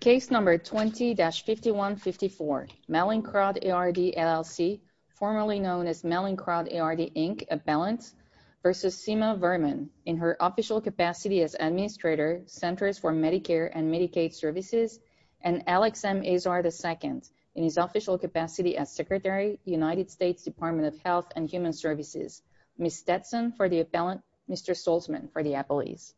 Case number 20-5154, Melinckrodt ARD LLC, formerly known as Melinckrodt ARD, Inc., Appellants, versus Seema Verma, in her official capacity as Administrator, Centers for Medicare and Medicaid Services, and Alex M. Azar II, in his official capacity as Secretary, United States Department of Health and Human Services. Ms. Stetson for the Appellants, Mr. Solzman for the Appellees.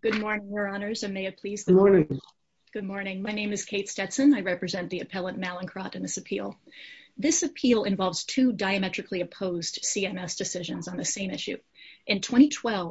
Good morning, Your Honors, and may it please be good morning. Good morning. My name is Kate Stetson. I represent the Appellant Melinckrodt in this appeal. This appeal involves two diametrically opposed CMS decisions on the same issue. In manufacturer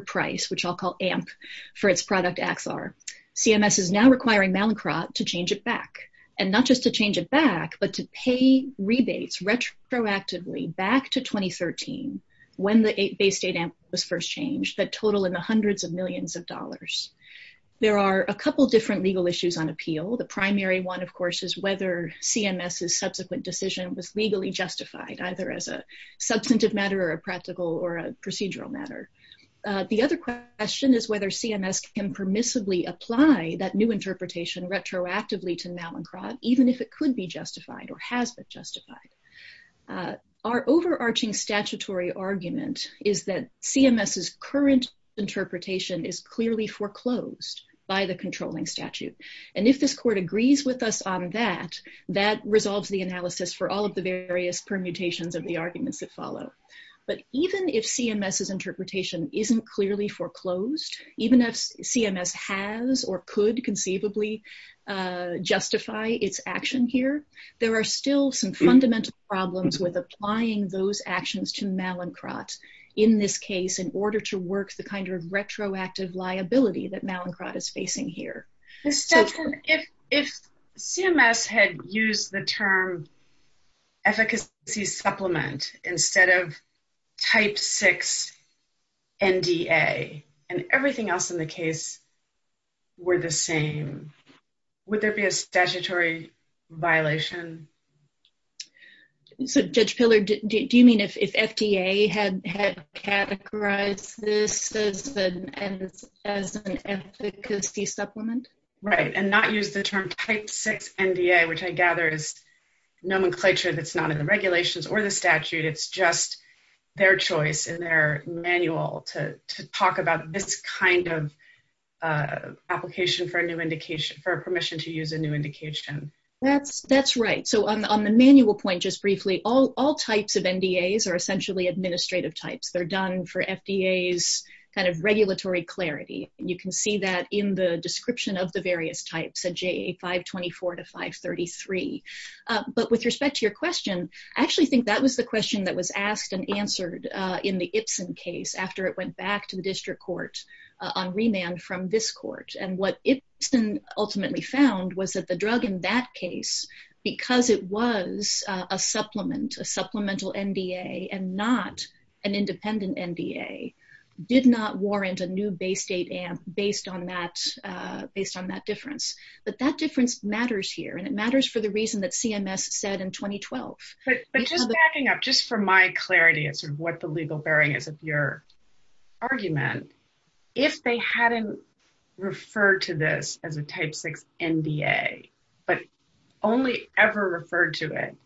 price, which I'll call AMP, for its product, Axar, CMS is now requiring Melinckrodt to change it back, and not just to change it back, but to pay rebates retroactively back to 2013, when the base date was first changed, that total in the hundreds of millions of dollars. There are a couple different legal issues on appeal. The primary one, of course, is whether CMS's subsequent decision was legally justified, either as a substantive matter or a practical or a procedural matter. The other question is whether CMS can permissibly apply that new interpretation retroactively to Melinckrodt, even if it could be justified or has been justified. Our overarching statutory argument is that CMS's current interpretation is clearly foreclosed by the controlling statute, and if this court agrees with us on that, that resolves the analysis for all of the various permutations of the arguments that follow. But even if CMS's interpretation isn't clearly foreclosed, even if CMS has or could conceivably justify its action here, there are still some fundamental problems with applying those actions to Melinckrodt, in this case, in order to work the kind of retroactive liability that Melinckrodt is facing here. If CMS had used the term efficacy supplement instead of type 6 NDA and everything else in the case were the same, would there be a statutory violation? Judge Piller, do you mean if FDA had categorized this as an efficacy supplement? Right, and not use the term type 6 NDA, which I gather is nomenclature that's not in the regulations or the statute. It's just their choice in their manual to talk about this kind of application for a permission to use a new indication. That's right. On the manual point, just briefly, all types of NDAs are essentially administrative types. They're done for FDA's regulatory clarity. You can see that in the description of the various types, the JA 524 to 533. But with respect to your question, I actually think that was the question that was asked and answered in the Ipsen case after it went back to the on remand from this court. And what Ipsen ultimately found was that the drug in that case, because it was a supplement, a supplemental NDA and not an independent NDA, did not warrant a new base state based on that difference. But that difference matters here. And it matters for the reason that CMS said in 2012. But just backing up, just for my clarity as to what the legal bearing is of your argument, if they hadn't referred to this as a type 6 NDA, but only ever referred to it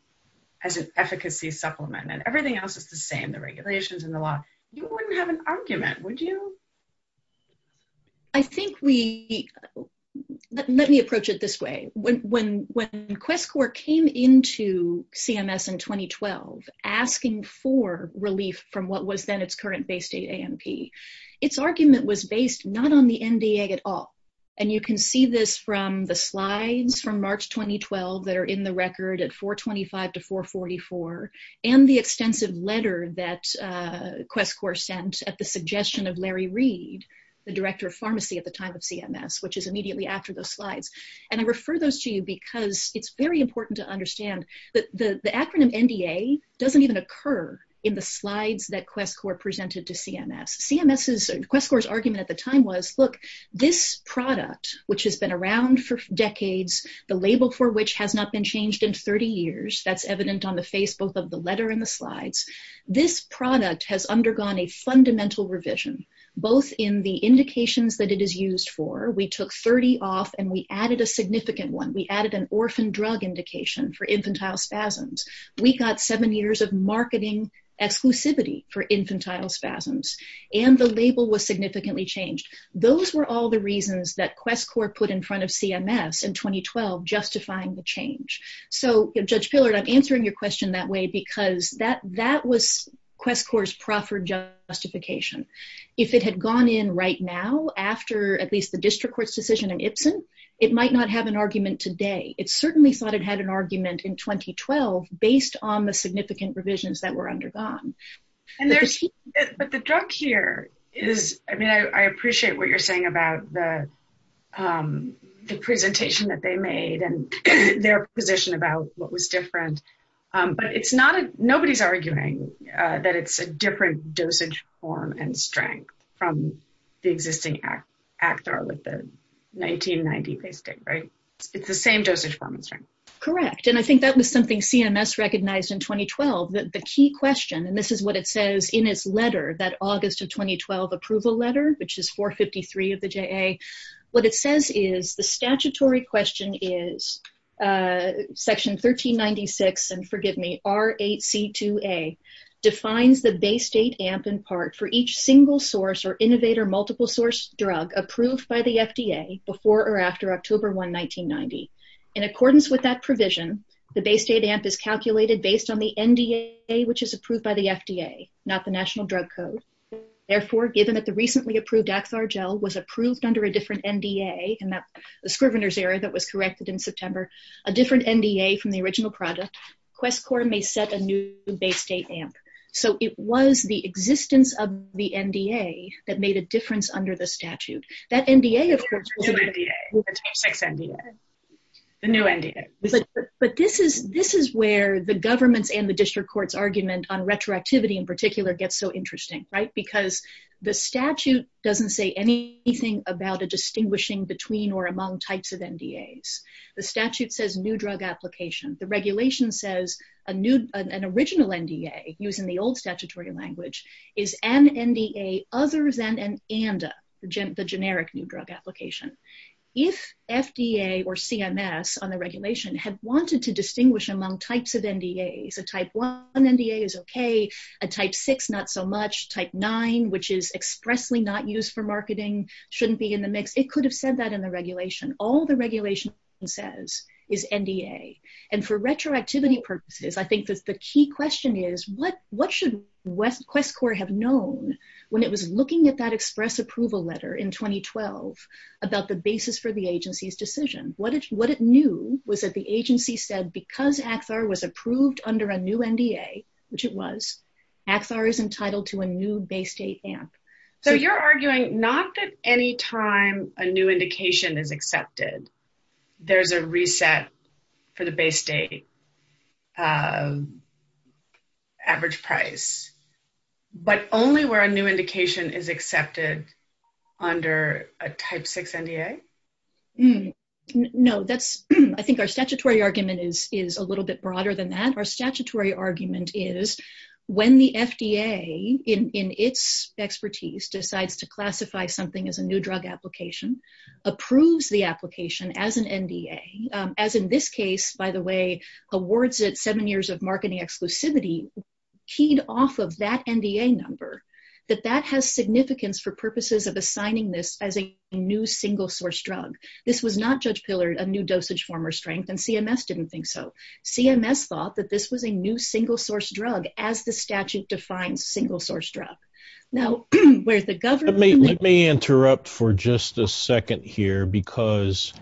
as an efficacy supplement and everything else is the same, the regulations and the law, you wouldn't have an argument, would you? I think we, let me approach it this way. When QuestCorps came into CMS in 2012, asking for relief from what was then its current base state AMP, its argument was based not on the NDA at all. And you can see this from the slides from March 2012 that are in the record at 425 to 444, and the extensive letter that QuestCorps sent at the suggestion of Larry Reed, the director of pharmacy at the time of CMS, which is immediately after those slides. And I refer those to you because it's very important to understand that the acronym NDA doesn't even occur in the slides that QuestCorps presented to CMS. CMS's, QuestCorps' argument at the time was, look, this product, which has been around for decades, the label for which has not been changed in 30 years, that's evident on the face, both of the letter and the slides. This product has undergone a fundamental revision, both in the indications that it is used for. We took 30 off and we added a significant one. We added an orphan drug indication for infantile spasms. We got seven years of marketing exclusivity for infantile spasms. And the label was significantly changed. Those were all the reasons that QuestCorps put in front of CMS in 2012, justifying the change. So Judge Fillard, I'm answering your question that way because that was QuestCorps' proper justification. If it had gone in right now after at least the district court's decision in Ipsen, it might not have an argument today. It certainly thought it had an argument in 2012 based on the significant revisions that were undergone. But the drug here is, I mean, I appreciate what you're saying about the presentation that they made and their position about what was different. But nobody's arguing that it's a different dosage form and strength from the existing Actar with the 1990-based thing, right? It's the same dosage form and strength. Correct. And I think that was something CMS recognized in 2012. The key question, and this is what it says in its letter, that August of is Section 1396, and forgive me, R8C2A, defines the Bay State AMP in part for each single-source or innovator multiple-source drug approved by the FDA before or after October 1, 1990. In accordance with that provision, the Bay State AMP is calculated based on the NDA, which is approved by the FDA, not the National Drug Code. Therefore, given that the recently that was corrected in September, a different NDA from the original product, QuestCorps may set a new Bay State AMP. So it was the existence of the NDA that made a difference under the statute. That NDA, of course, was the new NDA. But this is where the government's and the district court's argument on retroactivity in particular gets so interesting, right? Because the statute doesn't say anything about a distinguishing between or among types of NDAs. The statute says new drug application. The regulation says an original NDA, using the old statutory language, is an NDA other than an ANDA, the generic new drug application. If FDA or CMS on the regulation had wanted to distinguish among types of NDAs, a Type 1 NDA is okay, a Type 6, not so much, Type 9, which is expressly not used for marketing, shouldn't be in the mix. It could have said that in the regulation. All the regulation says is NDA. And for retroactivity purposes, I think that the key question is what should QuestCorps have known when it was looking at that express approval letter in 2012 about the basis for the agency's decision? What it knew was that the agency said because Axar was approved under a new NDA, which it was, Axar is entitled to a new Bay State AMP. So you're arguing not that any time a new indication is accepted, there's a reset for the Bay State average price, but only where a new indication is accepted under a Type 6 NDA? No, I think our statutory argument is a little bit broader than that. Our statutory argument is when the FDA, in its expertise, decides to classify something as a new drug application, approves the application as an NDA, as in this case, by the way, awards it seven years of marketing exclusivity, keyed off of that NDA number, that that has significance for purposes of assigning this as a new single source drug. This was not, Judge Pillard, a new dosage form and CMS didn't think so. CMS thought that this was a new single source drug, as the statute defines single source drug. Now, where the government- Let me interrupt for just a second here, because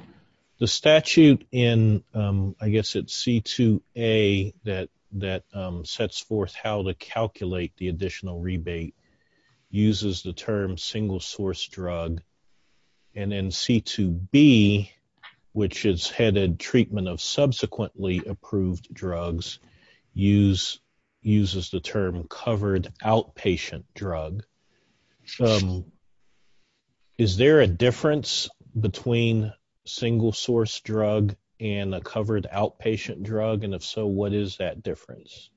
the statute in, I guess it's C2A that sets forth how to calculate the additional rebate uses the term single source drug. And then C2B, which is headed treatment of subsequently approved drugs, uses the term covered outpatient drug. Is there a difference between single source drug and a covered outpatient drug? And if so, what is that difference?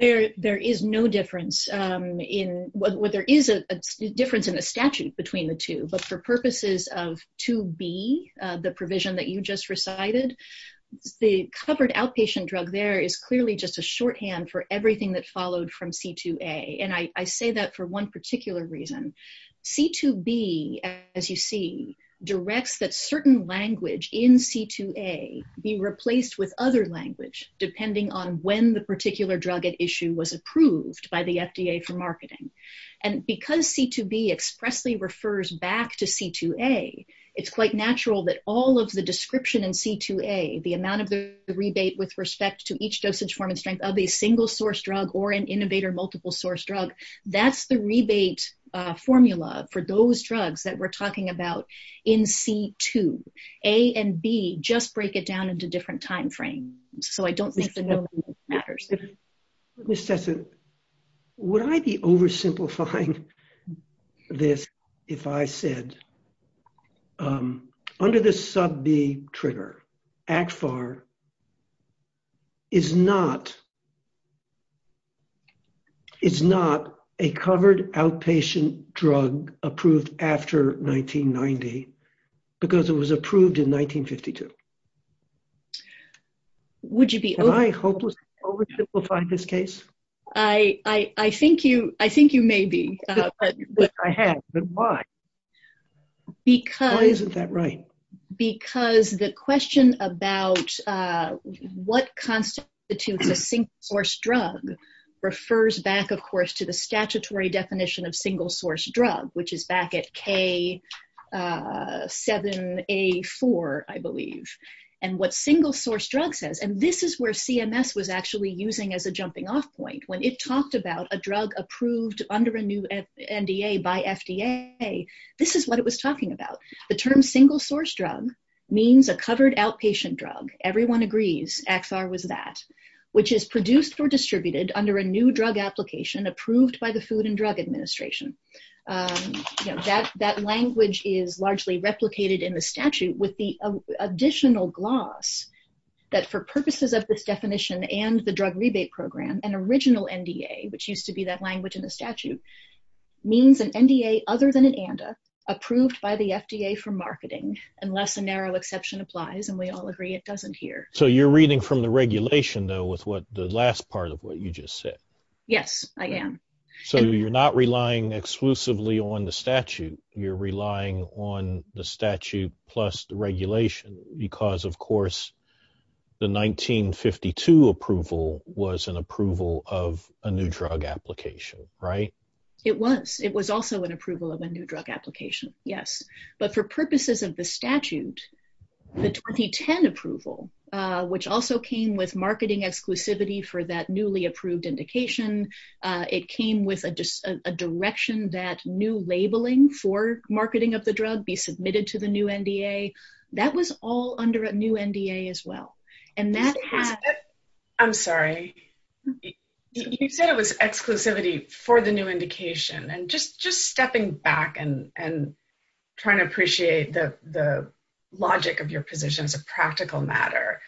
There is no difference. Well, there is a difference in the statute between the two, but for purposes of 2B, the provision that you just recited, the covered outpatient drug there is clearly just a shorthand for everything that's followed from C2A. And I say that for one particular reason. C2B, as you see, directs that certain language in C2A be replaced with other language, depending on when the particular drug at issue was approved by the FDA for marketing. And because C2B expressly refers back to C2A, it's quite natural that all of the description in C2A, the amount of the rebate with respect to each dosage form and strength of a single source drug or an innovator multiple source drug, that's the rebate formula for those drugs that we're talking about in C2. A and B just break it down into different timeframes. So, I don't need to know if it matters. Would I be oversimplifying this if I said, um, under the sub B trigger, ACFAR is not, is not a covered outpatient drug approved after 1990 because it was approved in 1952. Would you be- Am I hopelessly oversimplifying this case? I, I, I think you, I think you may be. I have, but why? Why isn't that right? Because the question about what constitutes a single source drug refers back, of course, to the statutory definition of single source drug, which is back at K7A4, I believe. And what single source drug says, and this is where CMS was actually using as a jumping off point. When it talked about a drug approved under a new NDA by FDA, this is what it was talking about. The term single source drug means a covered outpatient drug. Everyone agrees ACFAR was that, which is produced or distributed under a new drug application approved by the Food and Drug Administration. Um, that, that language is largely replicated in the statute with the additional gloss that for purposes of this definition and the drug rebate program, an original NDA, which used to be that language in the statute, means an NDA other than an ANDA approved by the FDA for marketing, unless a narrow exception applies. And we all agree it doesn't here. So you're reading from the regulation though, with what the last part of what you just said. Yes, I am. So you're not relying exclusively on the statute. You're relying on the statute plus the regulation because of course the 1952 approval was an approval of a new drug application, right? It was. It was also an approval of a new drug application. Yes. But for purposes of the statute, the 2010 approval, which also came with marketing exclusivity for that newly approved indication. It came with a direction that new labeling for marketing of the drug be submitted to the new NDA. That was all under a new NDA as well. And that had, I'm sorry, you said it was exclusivity for the new indication and just, just stepping back and, and trying to appreciate the, the logic of your position as a practical matter.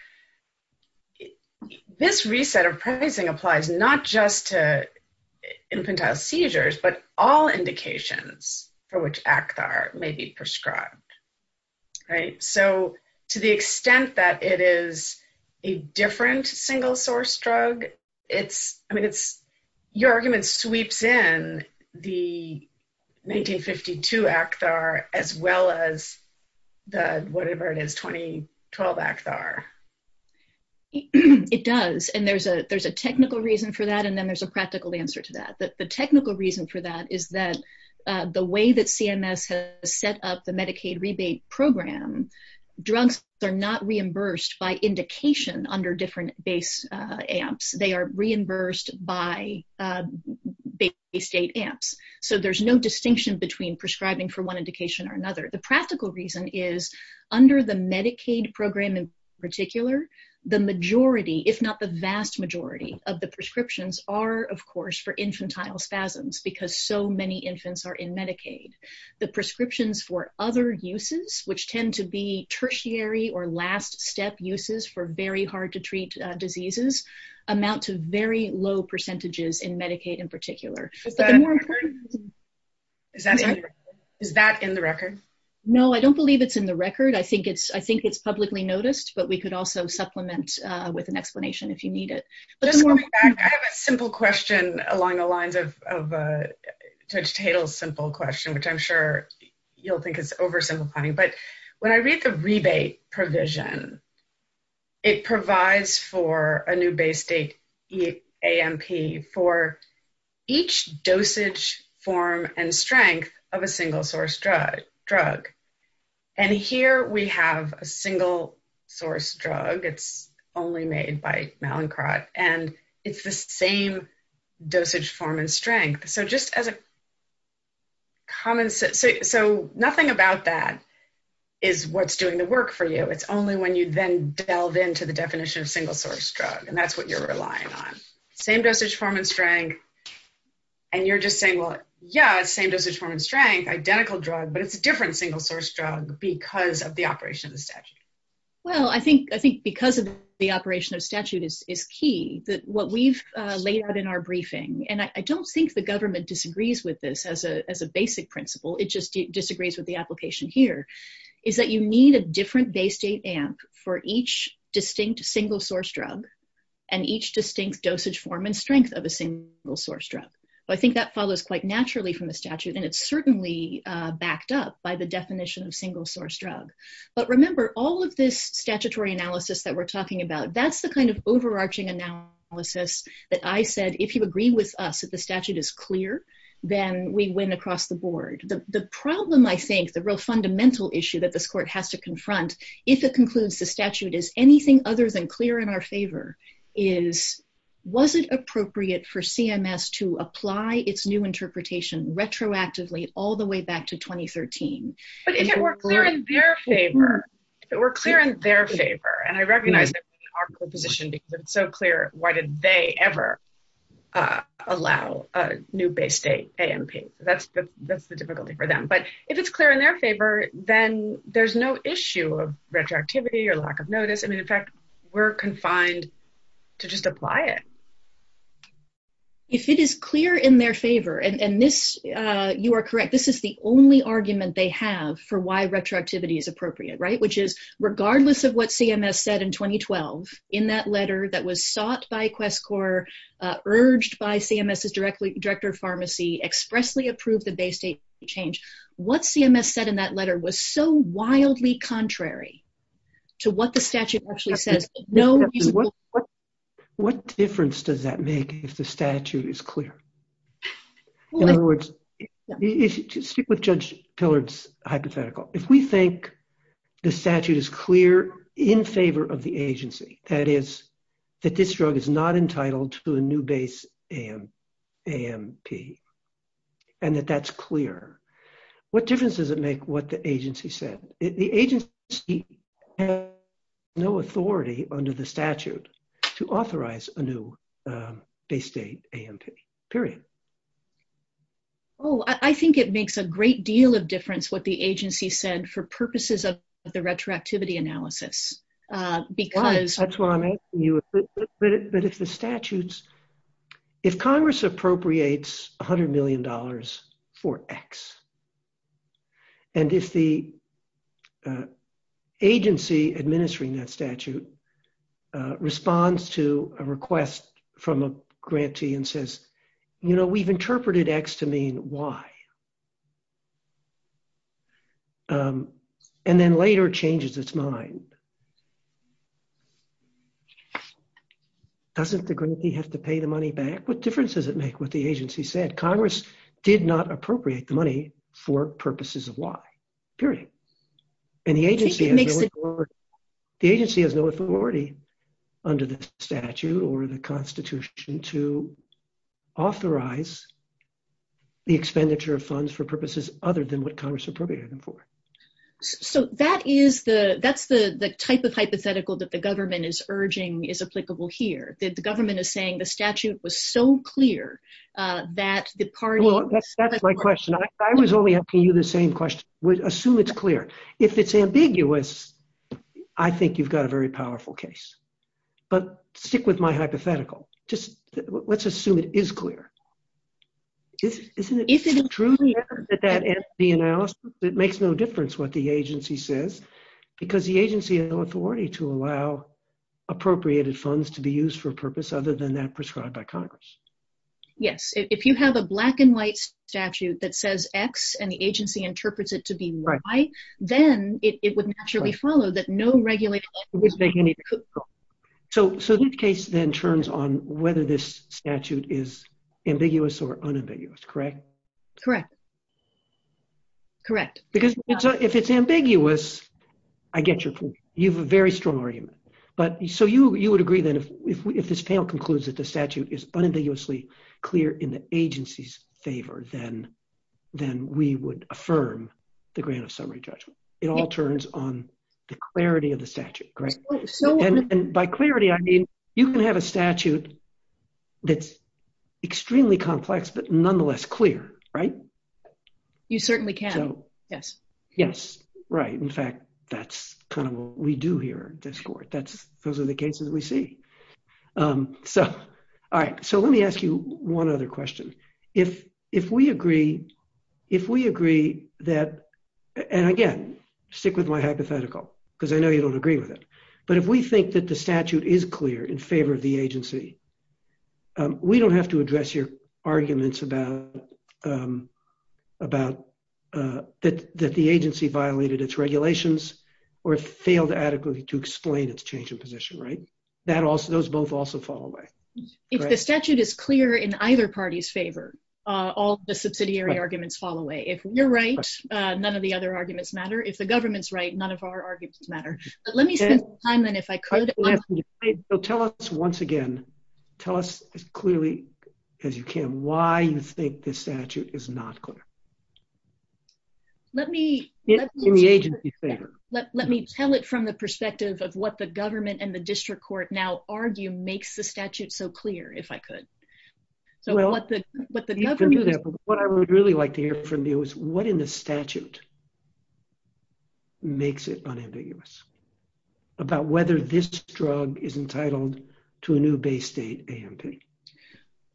This reset of pricing applies not just to infantile seizures, but all indications for which Actar may be prescribed. Right. So to the extent that it is a different single source drug, it's, I mean, it's, your argument sweeps in the 1952 Actar as well as the, whatever it is, 2012 Actar. It does. And there's a, there's a technical reason for that. And then there's a practical answer to that. But the technical reason for that is that the way that CMS has set up the Medicaid rebate program, drugs are not reimbursed by indication under different base amps. They are reimbursed by state amps. So there's no distinction between prescribing for one indication or another. The practical reason is under the Medicaid program in particular, the majority, if not the vast majority of the prescriptions are of course for infantile spasms because so uses, which tend to be tertiary or last step uses for very hard to treat diseases amount to very low percentages in Medicaid in particular. Is that in the record? No, I don't believe it's in the record. I think it's, I think it's publicly noticed, but we could also supplement with an explanation if you need it. I have a simple question along the lines of, of you'll think it's oversimplifying, but when I read the rebate provision, it provides for a new base state AMP for each dosage form and strength of a single source drug. And here we have a single source drug. It's only made by Mallinckrodt and it's the same dosage form and strength. So just as a common sense, so nothing about that is what's doing the work for you. It's only when you then delve into the definition of single source drug and that's what you're relying on. Same dosage form and strength. And you're just saying, well, yeah, same dosage form and strength, identical drug, but it's a different single source drug because of the operation of the statute. Well, I think, I think because of the operation of statute is, is key that what we've had in our briefing. And I don't think the government disagrees with this as a, as a basic principle. It just disagrees with the application here is that you need a different base state AMP for each distinct single source drug and each distinct dosage form and strength of a single source drug. But I think that follows quite naturally from the statute. And it's certainly backed up by the definition of single source drug. But remember all of this statutory analysis that we're talking about, that's the kind of overarching analysis that I said, if you agree with us, that the statute is clear, then we went across the board. The problem, I think the real fundamental issue that this court has to confront, if it concludes the statute is anything other than clear in our favor is, was it appropriate for CMS to apply its new interpretation retroactively all the way back to 2013? But if it were clear in their favor, we're clear in their favor. And I recognize our position because it's so clear. Why did they ever allow a new base state AMP? That's the, that's the difficulty for them. But if it's clear in their favor, then there's no issue of retroactivity or lack of notice. I mean, in fact, we're confined to just apply it. If it is clear in their favor, and this, you are correct, this is the only argument they have for why retroactivity is appropriate, right? Which is, regardless of what CMS said in 2012, in that letter that was sought by QuestCorps, urged by CMS's directly director of pharmacy, expressly approved the base state change. What CMS said in that letter was so clear. What difference does that make if the statute is clear? In other words, with Judge Pillard's hypothetical, if we think the statute is clear in favor of the agency, that is, that this drug is not entitled to a new base AMP, and that that's clear, what difference does it make what the agency said? The agency has no authority under the statute. To authorize a new base state AMP, period. Oh, I think it makes a great deal of difference what the agency said for purposes of the retroactivity analysis. Because- That's what I'm asking you. But if the statutes, if Congress appropriates $100 million for X, and if the agency administering that statute responds to a request from a grantee and says, you know, we've interpreted X to mean Y, and then later changes its mind, doesn't the grantee have to pay the money back? What difference does it make what the agency said? Congress did not appropriate the money for purposes of Y, period. The agency has no authority under the statute or the Constitution to authorize the expenditure of funds for purposes other than what Congress appropriated them for. So that's the type of hypothetical that the government is urging is applicable here. The government is saying the statute was so clear that the party- Well, that's my question. I was only asking you the same question. Assume it's clear. If it's ambiguous, I think you've got a very powerful case. But stick with my hypothetical. Just let's assume it is clear. Isn't it? Isn't it true that the analysis, it makes no difference what the agency says, because the agency has no authority to allow appropriated funds to be used for a purpose other than that prescribed by Congress? Yes. If you have a black and white statute that says X and the agency interprets it to be Y, then it would naturally follow that no regulation- So this case then turns on whether this statute is ambiguous or unambiguous, correct? Correct. Correct. Because if it's ambiguous, I get you. You have a very strong argument. But so you would agree that if this panel concludes that the statute is unambiguously clear in the agency's favor, then we would affirm the grant of summary judgment. It all turns on the clarity of the statute, correct? And by clarity, I mean you can have a statute that's extremely complex, but nonetheless clear, right? You certainly can. Yes. Right. In fact, that's kind of what we do here at this court. Those are the cases we see. All right. Let me ask you one other question. If we agree that, and again, stick with my hypothetical because I know you don't agree with it, but if we think that the statute is clear in either party's favor, all of the subsidiary arguments fall away. If you're right, none of the other arguments matter. If the government's right, none of our arguments matter. But let me spend some time then if I could- I think we have some debate. So tell us once again, tell us as clearly as you can why you think that the statute is not clear in the agency's favor. Let me tell it from the perspective of what the government and the district court now argue makes the statute so clear, if I could. What I would really like to hear from you is what in the statute makes it unambiguous about whether this drug is entitled to a new Bay State AMP?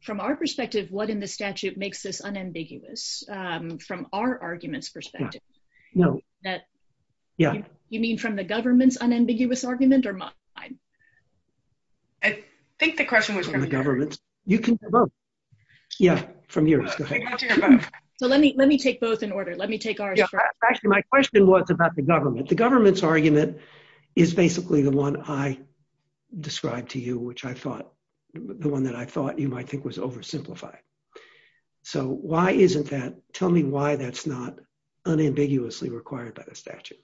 From our perspective, what in the statute makes this unambiguous? From our argument's perspective. You mean from the government's unambiguous argument or mine? I think the question was- From the government. You can say both. Yeah, from you. Let me take both in order. Let me take our- is basically the one I described to you, which I thought- the one that I thought you might think was oversimplified. So why isn't that- tell me why that's not unambiguously required by the statute.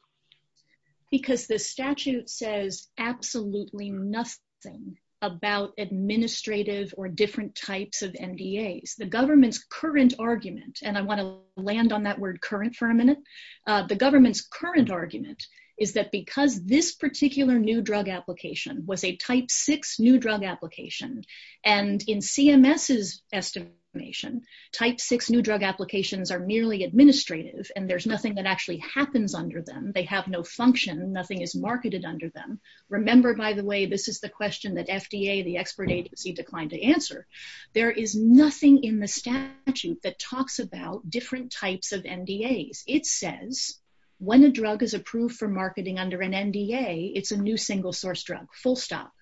Because the statute says absolutely nothing about administrative or different types of NDAs. The government's current argument, and I want to land on that word current for a minute. The government's current argument is that because this particular new drug application was a type six new drug application and in CMS's estimation type six new drug applications are merely administrative and there's nothing that actually happens under them. They have no function, nothing is marketed under them. Remember, by the way, this is the question that FDA, the expert agency, declined to answer. There is nothing in the statute that talks about different types of NDAs. It says when a drug is approved for marketing under an NDA, it's a new single source drug, full stop.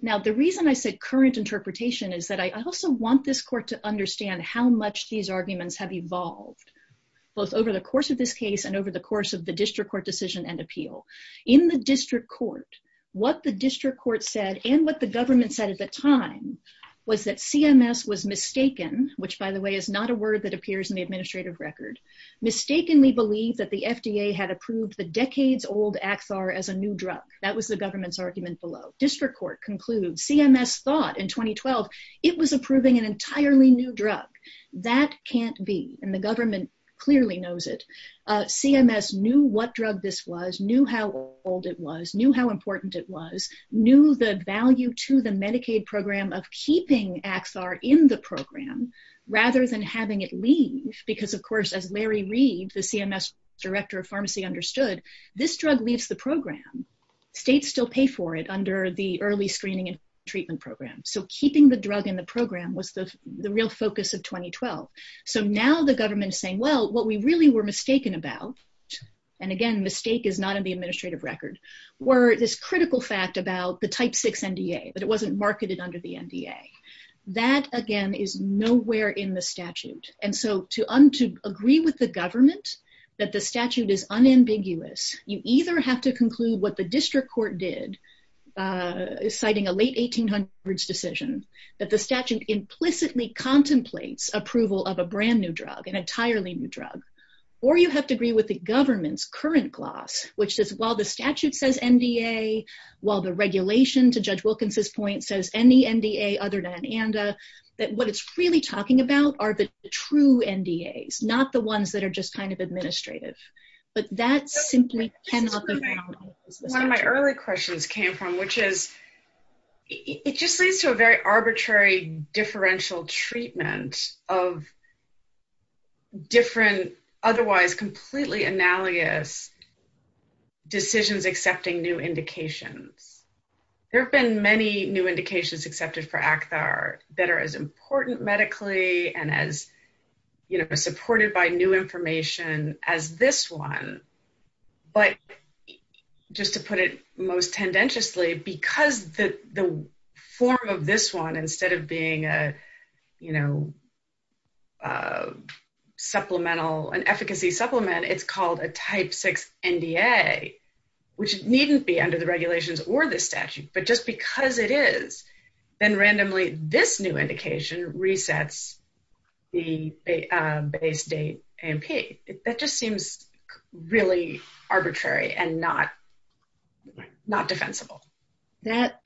Now, the reason I said current interpretation is that I also want this court to understand how much these arguments have evolved, both over the course of this case and over the course of the district court decision and appeal. In the district court, what the district court said and what the government said at the time was that CMS was mistaken, which, by the way, is not a word that appears in the administrative record, mistakenly believed that the FDA had approved the decades-old Axar as a new drug. That was the government's argument below. District court concluded CMS thought in 2012 it was approving an entirely new drug. That can't be, and the government clearly knows it. CMS knew what drug this was, knew how old it was, knew how important it was, knew the value to the Medicaid program of keeping Axar in the program rather than having it leave, because, of course, as Larry Reeves, the CMS Director of Pharmacy, understood, this drug leaves the program. States still pay for it under the early screening and treatment program. Keeping the drug in the program was the real focus of 2012. Now, the government is saying, well, what we really were mistaken about, and, again, mistake is not in the administrative record, were this critical fact about the type 6 NDA, but it wasn't marketed under the NDA. That, again, is nowhere in the statute, and so to agree with the government that the statute is unambiguous, you either have to conclude what the district court did, citing a late 1800s decision, that the statute implicitly contemplates approval of a brand-new drug, an entirely new drug, or you have to agree with the government's current gloss, which is while the statute says NDA, while the regulation, to Judge Wilkins's point, says any NDA other than ANDA, that what it's really talking about are the true NDAs, not the ones that are just kind of administrative, but that simply cannot be found. One of my earlier questions came from, which is, it just leads to a very arbitrary differential treatment of different, otherwise completely analogous decisions accepting new indications. There have been many new indications accepted for ACTHAR that are as important medically and as, you know, supported by new information as this one, but just to put it most tendentiously, because the form of this one, instead of being a, you know, supplemental, an efficacy supplement, it's called a type 6 NDA, which needn't be under the regulations or the statute, but just because it is, then randomly this new indication resets the base date and pace. That just seems really arbitrary and not defensible. That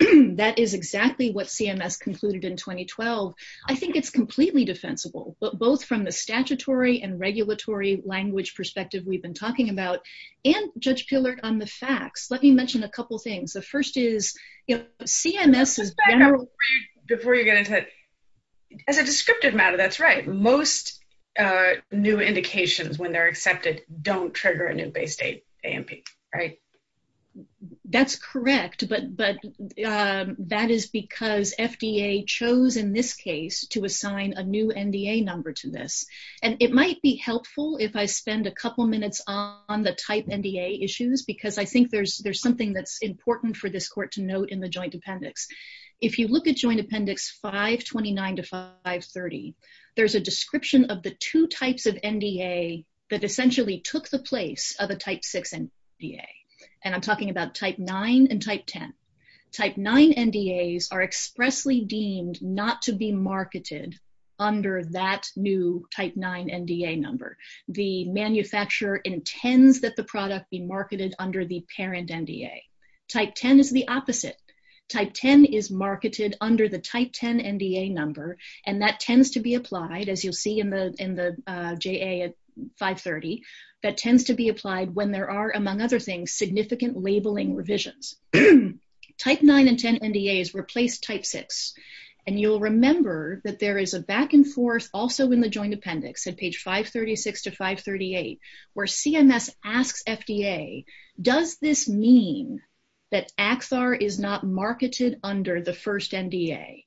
is exactly what CMS concluded in 2012. I think it's completely defensible, both from the statutory and regulatory language perspective we've been talking about, and, Judge Pillard, on the facts. Let me mention a couple of things. The first is, CMS is now... Before you get into it, as a descriptive matter, that's right. Most new indications, when they're accepted, don't trigger a new base date AMP, right? That's correct, but that is because FDA chose, in this case, to assign a new NDA number to this, and it might be helpful if I spend a couple minutes on the type NDA issues, because I think there's something that's important for this Court to note in the Joint Appendix. If you look at Joint Appendix 529 to 530, there's a description of the two types of NDA that essentially took the place of a type 6 NDA, and I'm talking about type 9 and type 10. Type 9 NDAs are expressly deemed not to be marketed under that new type 9 NDA number. The manufacturer intends that the product be marketed under the parent NDA. Type 10 is the opposite. Type 10 is marketed under the type 10 NDA number, and that tends to be applied, as you'll see in the JA at 530, that tends to be applied when there are, among other things, significant labeling revisions. Type 9 and 10 NDAs replace type 6, and you'll remember that there is a back-and-forth also in the Joint Appendix at page 536 to 538, where CMS asks FDA, does this mean that Axar is not marketed under the first NDA,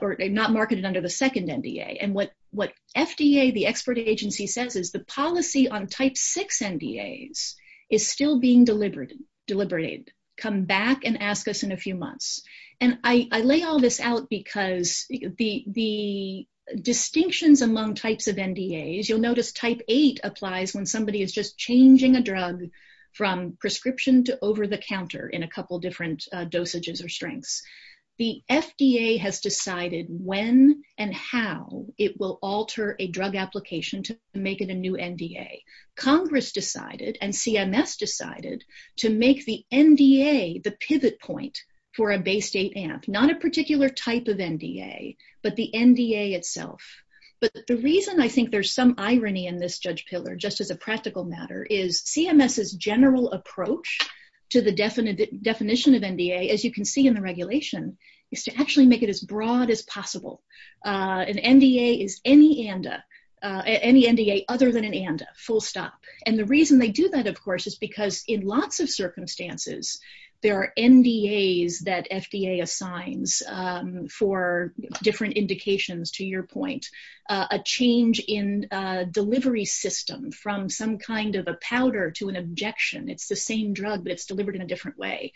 or not marketed under the second NDA? And what FDA, the expert agency, says is the policy on type 6 NDAs is still being deliberated. Come back and ask us in a few months. And I lay all this out because the distinctions among types of NDAs, you'll notice type 8 applies when somebody is just changing a drug from prescription to over-the-counter in a couple different dosages or strengths. The FDA has decided when and how it will alter a drug application to make it a new NDA. Congress decided, and CMS decided, to make the NDA the pivot point for a base state amp. Not a particular type of NDA, but the NDA itself. But the reason I think there's some irony in this judge pillar, just as a practical matter, is CMS's general approach to the definition of NDA, as you can see in the regulation, is to actually make it as broad as possible. An NDA is any ANDA, any NDA other than an ANDA, full stop. And the reason they do that, of course, is because in lots of circumstances, there are NDAs that FDA assigns for different indications, to your point, a change in delivery system from some kind of a powder to an objection. It's the same drug that's delivered in a different way.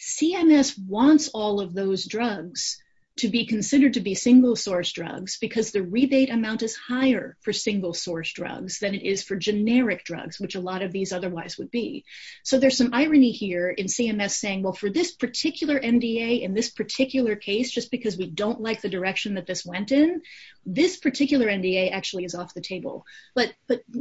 CMS wants all of those drugs to be considered single-source drugs because the rebate amount is higher for single-source drugs than it is for generic drugs, which a lot of these otherwise would be. So there's some irony here in CMS saying, well, for this particular NDA in this particular case, just because we don't like the direction that this went in, this particular NDA actually is off the table. But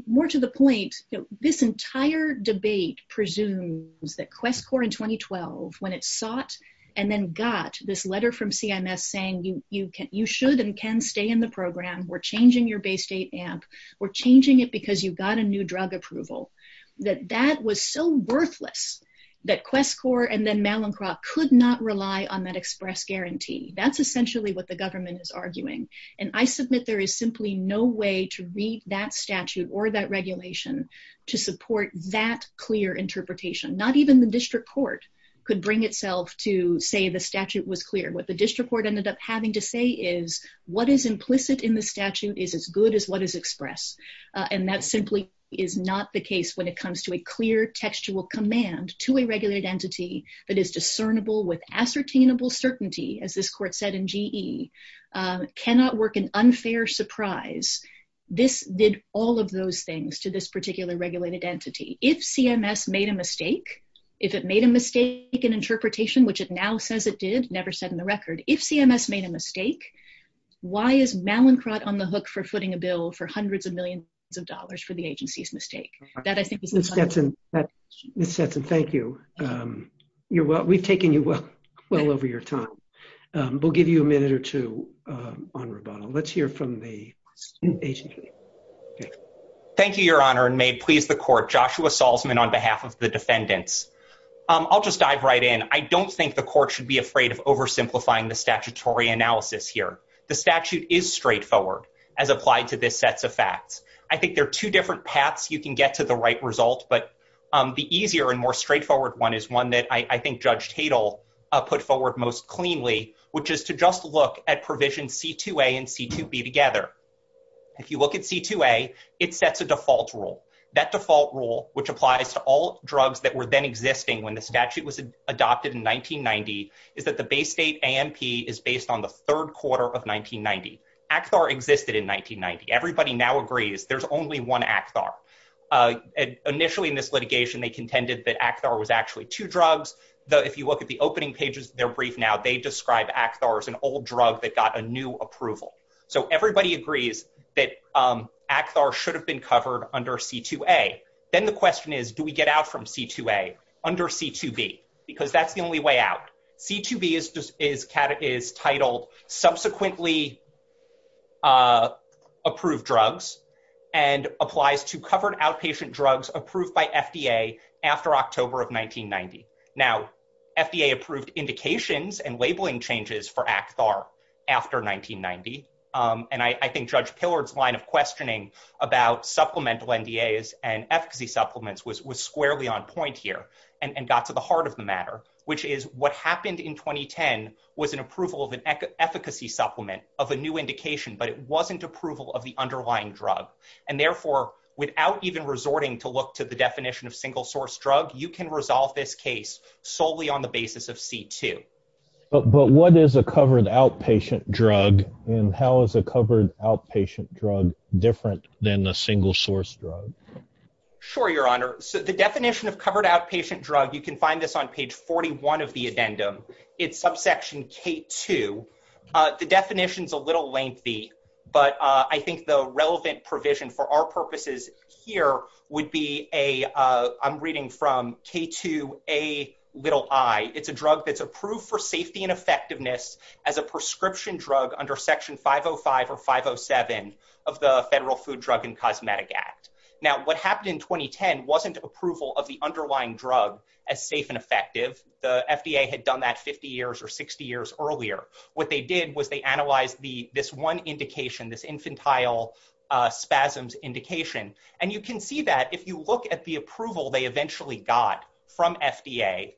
more to the point, this entire debate presumes that QuestCorps in 2012, when it sought and then got this letter from CMS saying, you should and can stay in the program, we're changing your Bay State amp, we're changing it because you've got a new drug approval, that that was so worthless that QuestCorps and then Malincroft could not rely on that express guarantee. That's essentially what the government is arguing. And I submit there is simply no way to read that statute or that regulation to support that clear interpretation. Not even the district court could bring itself to say the statute was clear. What the district court ended up having to say is, what is implicit in the statute is as good as what is expressed. And that simply is not the case when it comes to a clear textual command to a regulated entity that is discernible with ascertainable certainty, as this court said in GE, cannot work an unfair surprise. This did all of those things to this which it now says it did, never said in the record. If CMS made a mistake, why is Malincroft on the hook for footing a bill for hundreds of millions of dollars for the agency's mistake? That I think... Ms. Stetson, thank you. We've taken you well over your time. We'll give you a minute or two on rebuttal. Let's hear from the agency. Thank you, Your Honor, and may it please the court, Joshua Salzman on behalf of the defendants. I'll just dive right in. I don't think the court should be afraid of oversimplifying the statutory analysis here. The statute is straightforward as applied to this set of facts. I think there are two different paths you can get to the right result, but the easier and more straightforward one is one that I think Judge Tatel put forward most cleanly, which is to just look at provision C2A and C2B together. If you look at C2A, it sets a default rule. That default rule, which applies to all drugs that were then existing when the statute was adopted in 1990, is that the Bay State AMP is based on the third quarter of 1990. Axar existed in 1990. Everybody now agrees there's only one Axar. Initially in this litigation, they contended that Axar was actually two drugs, though if you look at the opening pages of their brief now, they describe Axar as an old drug that got a new approval. Everybody agrees that Axar should have been covered under C2A. Then the question is, do we get out from C2A under C2B? Because that's the only way out. C2B is titled Subsequently Approved Drugs and applies to covered outpatient drugs approved by FDA after October of 1990. Now, FDA approved indications and labeling changes for Axar after 1990. I think Judge Pillard's line of questioning about supplemental NDAs and efficacy supplements was squarely on point here and got to the heart of the matter, which is what happened in 2010 was an approval of an efficacy supplement of a new indication, but it wasn't approval of the underlying drug. Therefore, without even resorting to look to the definition of single source drug, you can resolve this case solely on the basis of C2. But what is a covered outpatient drug and how is a covered outpatient drug different than a single source drug? Sure, Your Honor. So, the definition of covered outpatient drug, you can find this on page 41 of the addendum, is subsection K2. The definition is a little lengthy, but I think the relevant provision for our purposes here would be a, I'm reading from K2Ai. It's a drug that's approved for safety and effectiveness as a prescription drug under Section 505 or 507 of the Federal Food Drug and Cosmetic Act. Now, what happened in 2010 wasn't approval of the underlying drug as safe and effective. The FDA had done that 50 years or 60 years earlier. What they did was they this infantile spasms indication. And you can see that if you look at the approval they eventually got from FDA,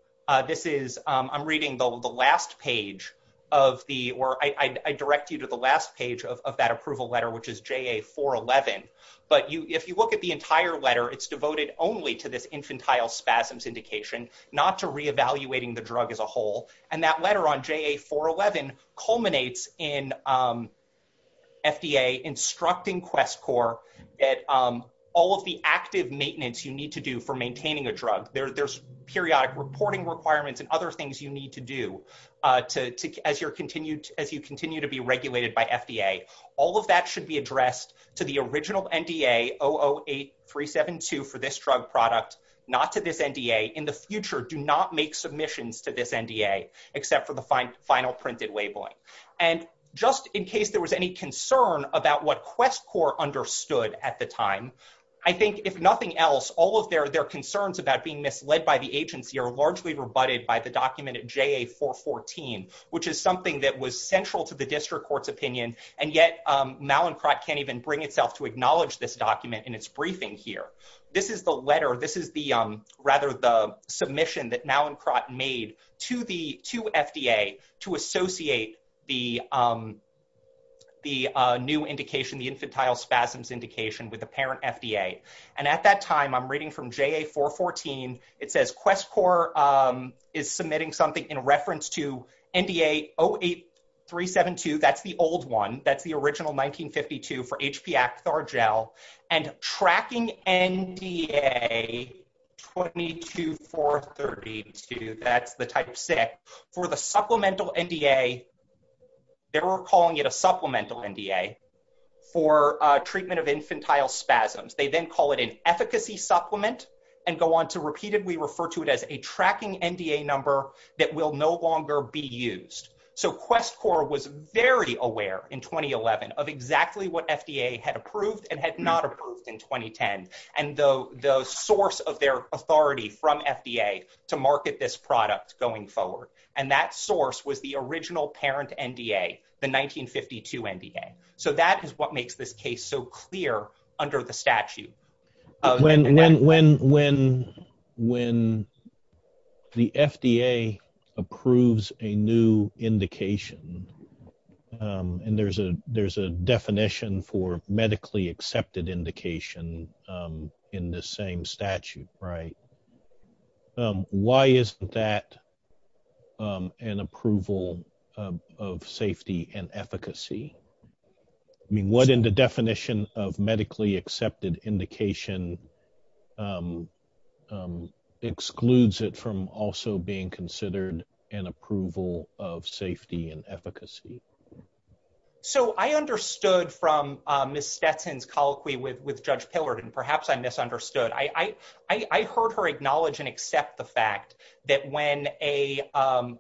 this is, I'm reading the last page of the, or I direct you to the last page of that approval letter, which is JA411. But if you look at the entire letter, it's devoted only to this infantile spasms indication, not to reevaluating the drug as a whole. And that letter on JA411 culminates in FDA instructing QuestCorps that all of the active maintenance you need to do for maintaining a drug, there's periodic reporting requirements and other things you need to do as you continue to be regulated by FDA. All of that should be addressed to the original NDA, 008372 for this drug product, not to this NDA. In the future, do not make submissions to this NDA, except for the final printed labeling. And just in case there was any concern about what QuestCorps understood at the time, I think if nothing else, all of their concerns about being misled by the agency are largely rebutted by the document at JA414, which is something that was central to the district court's opinion. And yet Malincroft can't even bring itself to acknowledge this document in its briefing here. This is the letter, this is the rather the submission that Malincroft made to the FDA to associate the new indication, the infantile spasms indication with the parent FDA. And at that time I'm reading from JA414, it says QuestCorps is submitting something in reference to NDA 08372, that's the old one, that's the original 1952 for HPXR gel and tracking NDA 22432, that's the type six, for the supplemental NDA. They were calling it a supplemental NDA for treatment of infantile spasms. They then call it an efficacy supplement and go on to repeatedly refer to it as a tracking NDA number that will no longer be used. So QuestCorps was very aware in 2011 of exactly what FDA had approved and had not approved in 2010. And the source of their authority from FDA to market this product going forward, and that source was the original parent NDA, the 1952 NDA. So that is what makes this case so clear under the statute. When the FDA approves a new indication, and there's a definition for in the same statute, right? Why isn't that an approval of safety and efficacy? I mean, what in the definition of medically accepted indication excludes it from also being considered an approval of safety and efficacy? So I understood from Ms. Stetson's colloquy with Judge Pillard, and perhaps I misunderstood. I heard her acknowledge and accept the fact that when a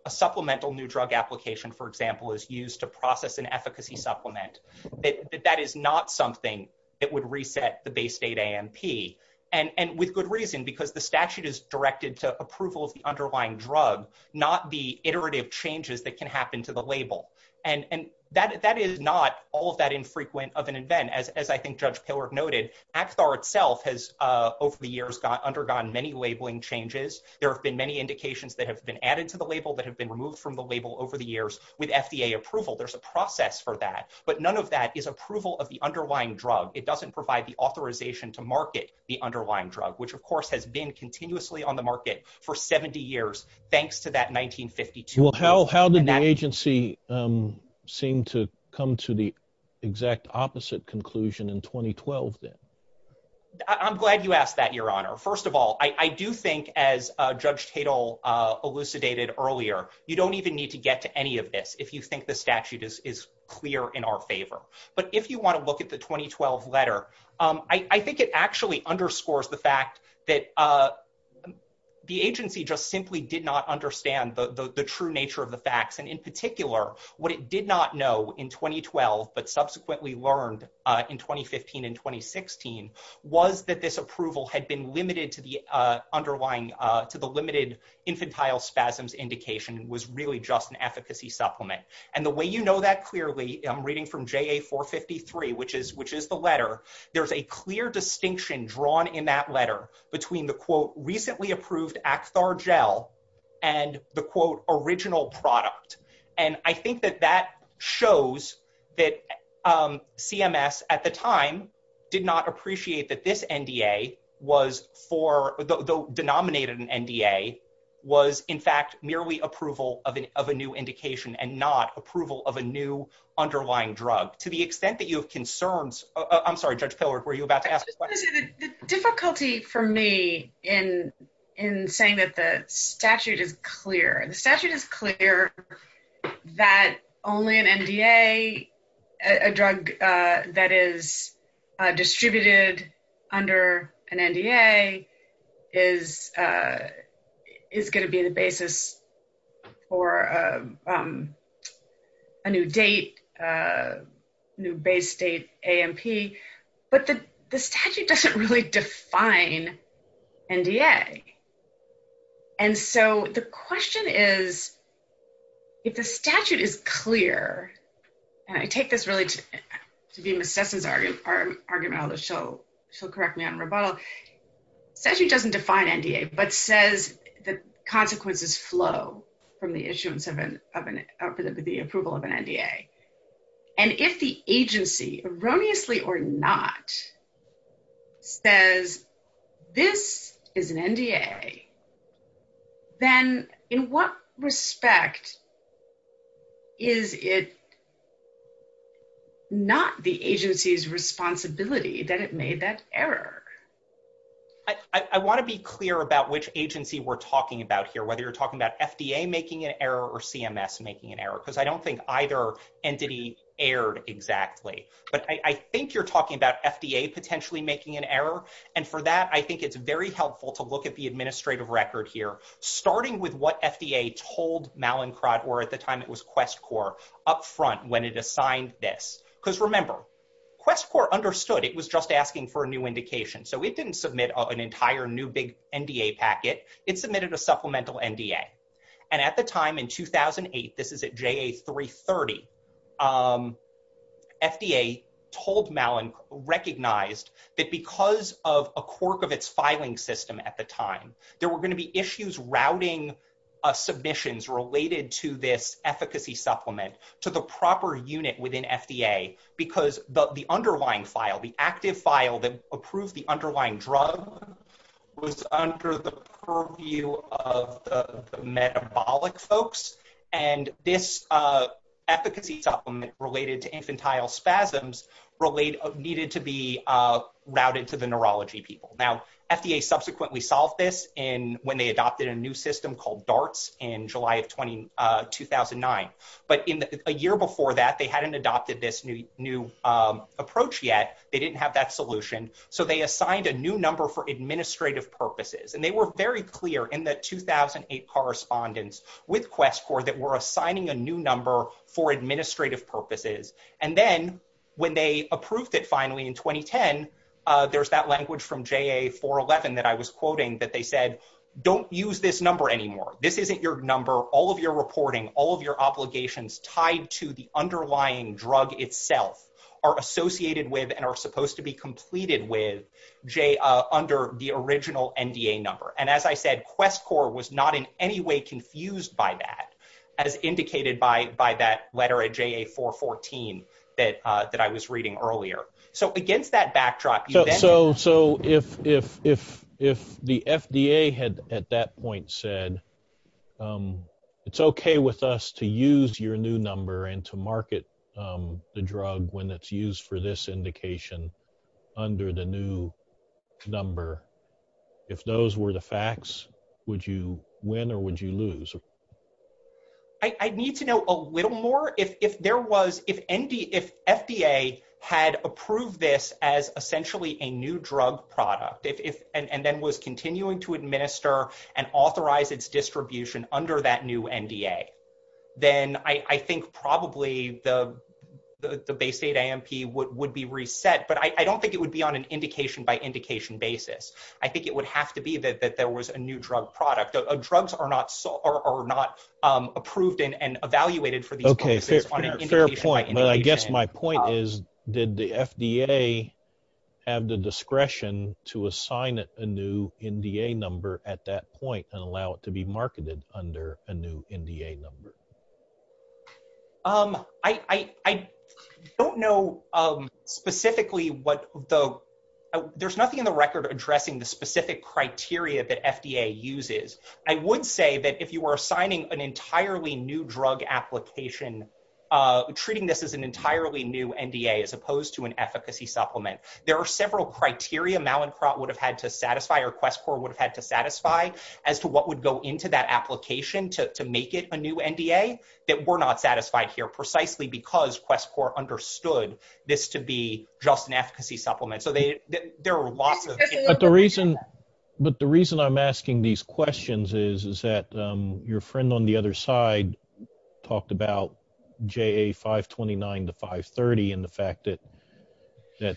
supplemental new drug application, for example, is used to process an efficacy supplement, that that is not something that would reset the base state AMP. And with good reason, because the statute is directed to approval of the underlying drug, not the iterative changes that can happen to the label. And that is not all that infrequent of an event. As I think Judge Pillard noted, ACTSAR itself has over the years undergone many labeling changes. There have been many indications that have been added to the label that have been removed from the label over the years with FDA approval. There's a process for that. But none of that is approval of the underlying drug. It doesn't provide the authorization to market the underlying drug, which, of course, has been continuously on the market for 70 years, thanks to that 1952. Well, how did the agency seem to come to the exact opposite conclusion in 2012, then? I'm glad you asked that, Your Honor. First of all, I do think, as Judge Tatel elucidated earlier, you don't even need to get to any of this if you think the statute is clear in our favor. But if you want to look at the 2012 letter, I think it actually underscores the fact that the agency just simply did not understand the true nature of the facts. And in particular, what it did not know in 2012, but subsequently learned in 2015 and 2016, was that this approval had been limited to the limited infantile spasms indication was really just an efficacy supplement. And the way you know that clearly, I'm reading from JA 453, which is the letter, there's a clear distinction drawn in that letter between the, quote, recently approved Axthar gel and the, quote, original product. And I think that that shows that CMS, at the time, did not appreciate that this NDA was for, though denominated an NDA, was, in fact, merely approval of a new indication and not approval of a new underlying drug. To the extent that you have concerns, I'm sorry, Judge Pillard, were you about to ask a question? The difficulty for me in saying that the statute is clear, the statute is clear that only an NDA, a drug that is distributed under an NDA, is going to be the basis for a new date, a new base date, AMP, but the statute doesn't really define NDA. And so the question is, if the statute is clear, and I take this really to be Ms. Stetson's argument, I'll just show, she'll correct me on rebuttal. The statute doesn't define NDA, but says the consequences flow from the issuance of an approval of an NDA. And if the agency, erroneously or not, says this is an NDA, then in what respect is it not the agency's responsibility that it made that error? I want to be clear about which agency we're talking about here, whether you're talking about FDA making an error or CMS making an error, because I don't think either entity erred exactly. But I think you're talking about FDA potentially making an error, and for that I think it's very helpful to look at the administrative record here, starting with what FDA told Mallinckrodt, or at the time it was QuestCorps, up front when it assigned this. Because remember, QuestCorps understood it was just asking for a new indication, so it didn't submit an entire new big NDA packet, it submitted a supplemental NDA. And at the time, in 2008, this is at JA 330, FDA told Mallinckrodt, recognized that because of a quirk of its filing system at the time, there were going to be issues routing submissions related to this efficacy supplement to the proper unit within FDA, because the underlying file, the active file that approved the underlying drug, was under the purview of the metabolic folks, and this efficacy supplement related to infantile spasms needed to be routed to the neurology people. Now, FDA subsequently solved this when they adopted a new system called DARTS in July of 2009. But a year before that, they hadn't adopted this new approach yet, they didn't have that solution, so they assigned a new number for administrative purposes. And they were very clear in that 2008 correspondence with QuestCorps that we're assigning a new number for administrative purposes. And then, when they approved it finally in 2010, there's that language from JA 411 that I was quoting, that they said, don't use this number anymore. This isn't your number, all of your reporting, all of your obligations tied to the underlying drug itself are associated with and are supposed to be completed with under the original NDA number. And as I said, QuestCorps was not in any way confused by that, as indicated by that letter at JA 414 that I was reading earlier. So, against that backdrop... So, if the FDA had at that point said, it's okay with us to use your new number and to market the drug when it's used for this indication under the new number, if those were the facts, would you win or would you lose? I'd need to know a little more. If there was... If FDA had approved this as essentially a new drug product and then was continuing to administer and authorize its distribution under that new NDA, then I think probably the base aid AMP would be reset. But I don't think it would be on an indication by indication basis. I think it would have to be that there was a new drug product. Drugs are not approved and evaluated for... Okay, fair point. But I guess my point is, did the FDA have the discretion to assign it a new NDA number at that point and allow it to be marketed under a new NDA number? I don't know specifically what the... There's nothing in the record addressing the specific criteria that FDA uses. I would say that if you were assigning an entirely new drug application, treating this as an entirely new NDA as opposed to an efficacy supplement, there are several criteria Malincourt would have had to satisfy or QuestCorps would have had to satisfy as to what would go into that application to make it a new NDA that were not satisfied here precisely because QuestCorps understood this to be just an efficacy supplement. So, there are lots But the reason I'm asking these questions is that your friend on the other side talked about JA 529 to 530 and the fact that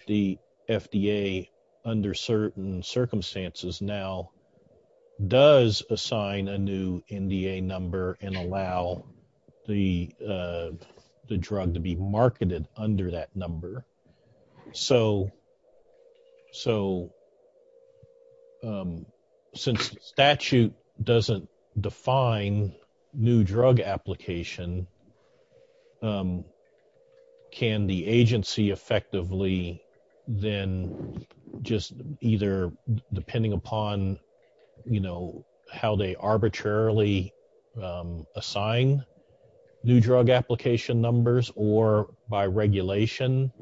the FDA under certain circumstances now does assign a new NDA number and allow the drug to be marketed under that number. So, since statute doesn't define new drug application, can the agency effectively then just either, depending upon how they arbitrarily assign new drug application numbers or by regulation,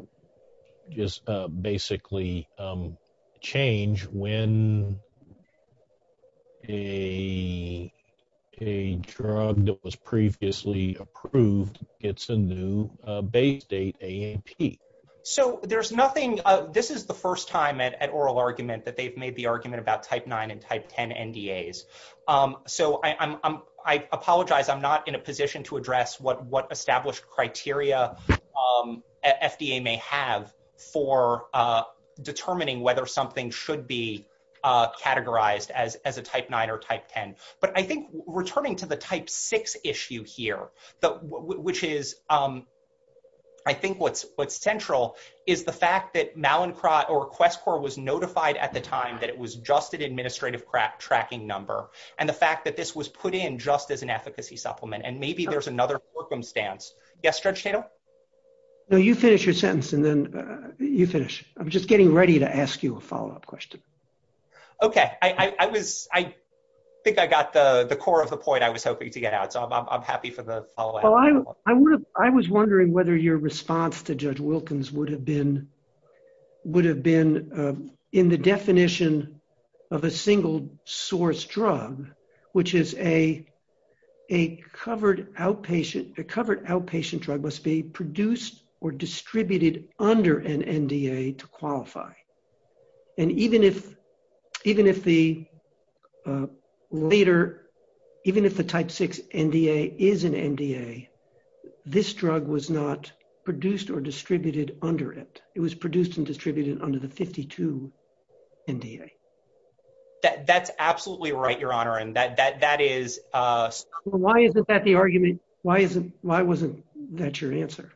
just basically change when a drug that was previously approved gets a new base date AAP? So, there's nothing... This is the first time at oral argument that they've made the argument about type 9 and type 10 NDAs. So, I apologize. I'm not in a position to address what established criteria FDA may have for determining whether something should be categorized as a type 9 or type 10. But I think returning to the type 6 issue here, which is I think what's central is the fact that Malincroft or QuestCorps was notified at the time that it was just an administrative tracking number and the fact that this was put in just as an efficacy supplement and maybe there's another circumstance. Yes, Judge Chato? No, you finish your sentence and then you finish. I'm just getting ready to ask you a follow-up question. Okay. I think I got the core of the point I was hoping to get out. So, I'm happy for follow-up. I was wondering whether your response to Judge Wilkins would have been in the definition of a single source drug, which is a covered outpatient drug must be produced or distributed under an NDA to qualify. And even if the type 6 NDA is an NDA, this drug was not produced or distributed under it. It was produced and distributed under the 52 NDA. That's absolutely right, Your Honor. But why is that the argument? Why wasn't that your answer?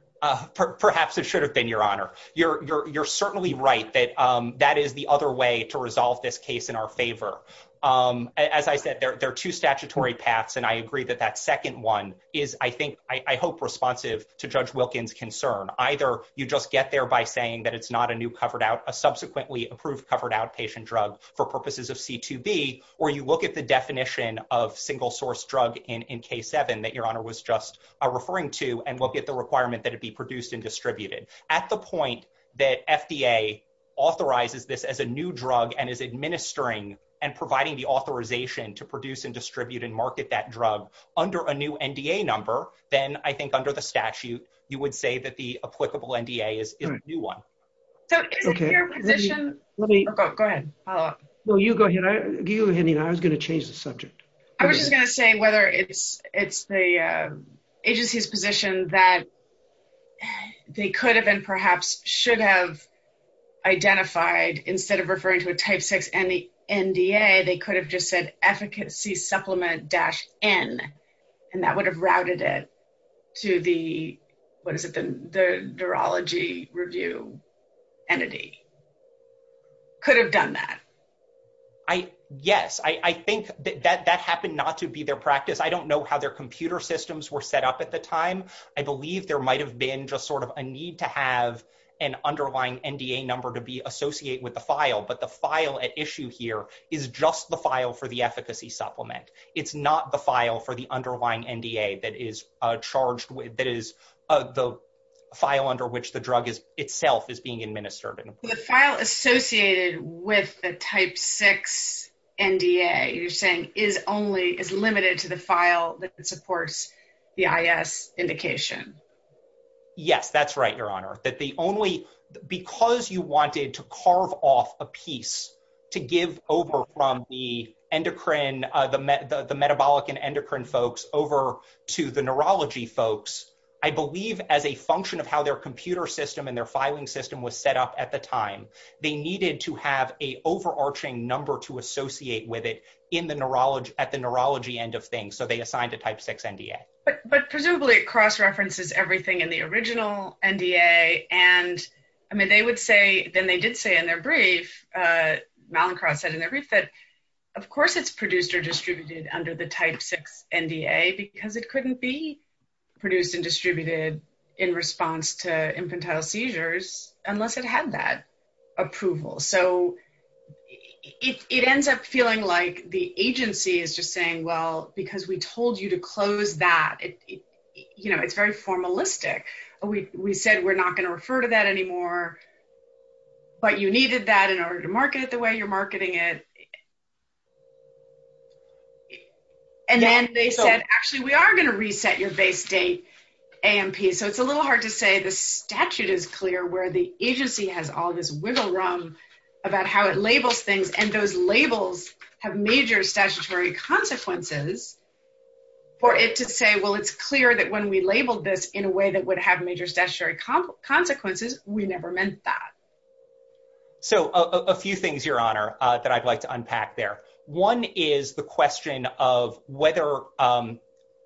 Perhaps it should have been, Your Honor. You're certainly right that that is the other way to resolve this case in our favor. As I said, there are two statutory paths and I agree that that second one is, I think, I hope responsive to Judge Wilkins' concern. Either you just get there by saying that it's not a new covered out, a subsequently approved covered outpatient drug for purposes of C2B, or you look at the definition of single source drug in K7 that Your Honor was just referring to and look at the requirement that it be produced and distributed. At the point that FDA authorizes this as a new drug and is administering and providing the authorization to produce and distribute and market that drug under a new NDA number, then I think under the statute, you would say that the applicable NDA is a new one. Is your position... Go ahead. No, you go ahead. I was going to change the subject. I was just going to say whether it's the agency's position that they could have and perhaps should have identified instead of referring to a type 6 NDA, they could have just said efficacy supplement dash N and that would have routed it to the, what is it, the neurology review entity. Could have done that. Yes, I think that happened not to be their practice. I don't know how their computer systems were set up at the time. I believe there might have been just sort of a need to have an underlying NDA number to be associated with the file, but the file at issue here is just the file for the efficacy supplement. It's not the file for the underlying NDA that is charged with, that is the file under which the drug itself is being administered. The file associated with the type 6 NDA, you're saying, is only, is limited to the file that supports the IS indication. Yes, that's right, Your Honor. That the only, because you wanted to carve off a piece to give over from the endocrine, the metabolic and endocrine folks over to the neurology folks, I believe as a function of how their computer system and their filing system was set up at the time, they needed to have a overarching number to associate with it in the neurology, at the neurology end of things, so they assigned the type 6 NDA. But presumably it cross-references everything in the original NDA and, I mean, they would say, then they did say in their brief, Mallinckrodt said in their brief that of course it's produced or distributed under the type 6 NDA because it couldn't be produced and distributed in response to infantile seizures unless it had that approval. It ends up feeling like the agency is just saying, well, because we told you to close that, it's very formalistic. We said we're not going to refer to that anymore, but you needed that in order to market it the way you're marketing it. And then they said, actually, we are going to reset your base date AMP. So it's a little hard to say the statute is clear where the agency has all this wiggle room about how it labels things, and those labels have major statutory consequences for it to say, well, it's clear that when we labeled this in a way that would have major statutory consequences, we never meant that. So a few things, Your Honor, that I'd like to unpack there. One is the question of whether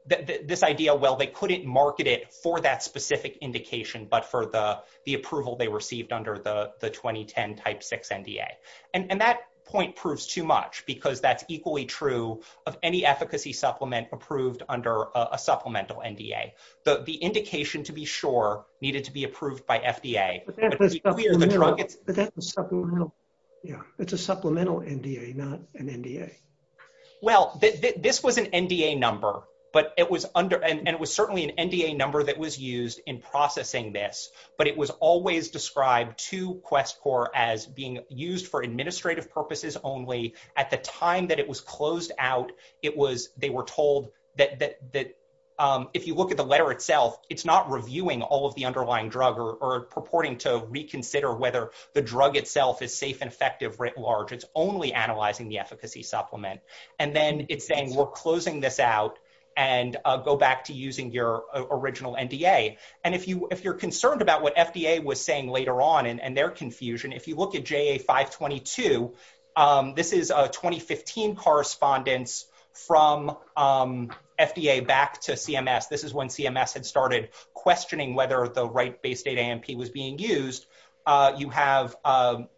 this idea, well, they couldn't market it for that specific indication but for the approval they received under the 2010 type 6 NDA. And that point proves too much because that's equally true of any efficacy supplement approved under a supplemental NDA. The indication, to be sure, needed to be approved by FDA. But that's a supplemental NDA, not an NDA. Well, this was an NDA number, and it was certainly an NDA number that was used in processing this, but it was always described to QuestCorps as being used for administrative purposes only. At the time that it was closed out, they were told that if you look at the letter itself, it's not reviewing all of the underlying drug or purporting to reconsider whether the drug itself is safe and effective writ large. It's only analyzing the efficacy supplement. And then it's saying we're closing this out and go back to using your original NDA. And if you're concerned about what FDA was saying later on and their confusion, if you look at JA 522, this is a 2015 correspondence from FDA back to CMS. This is when CMS had started questioning whether the right base data AMP was being used. You have FDA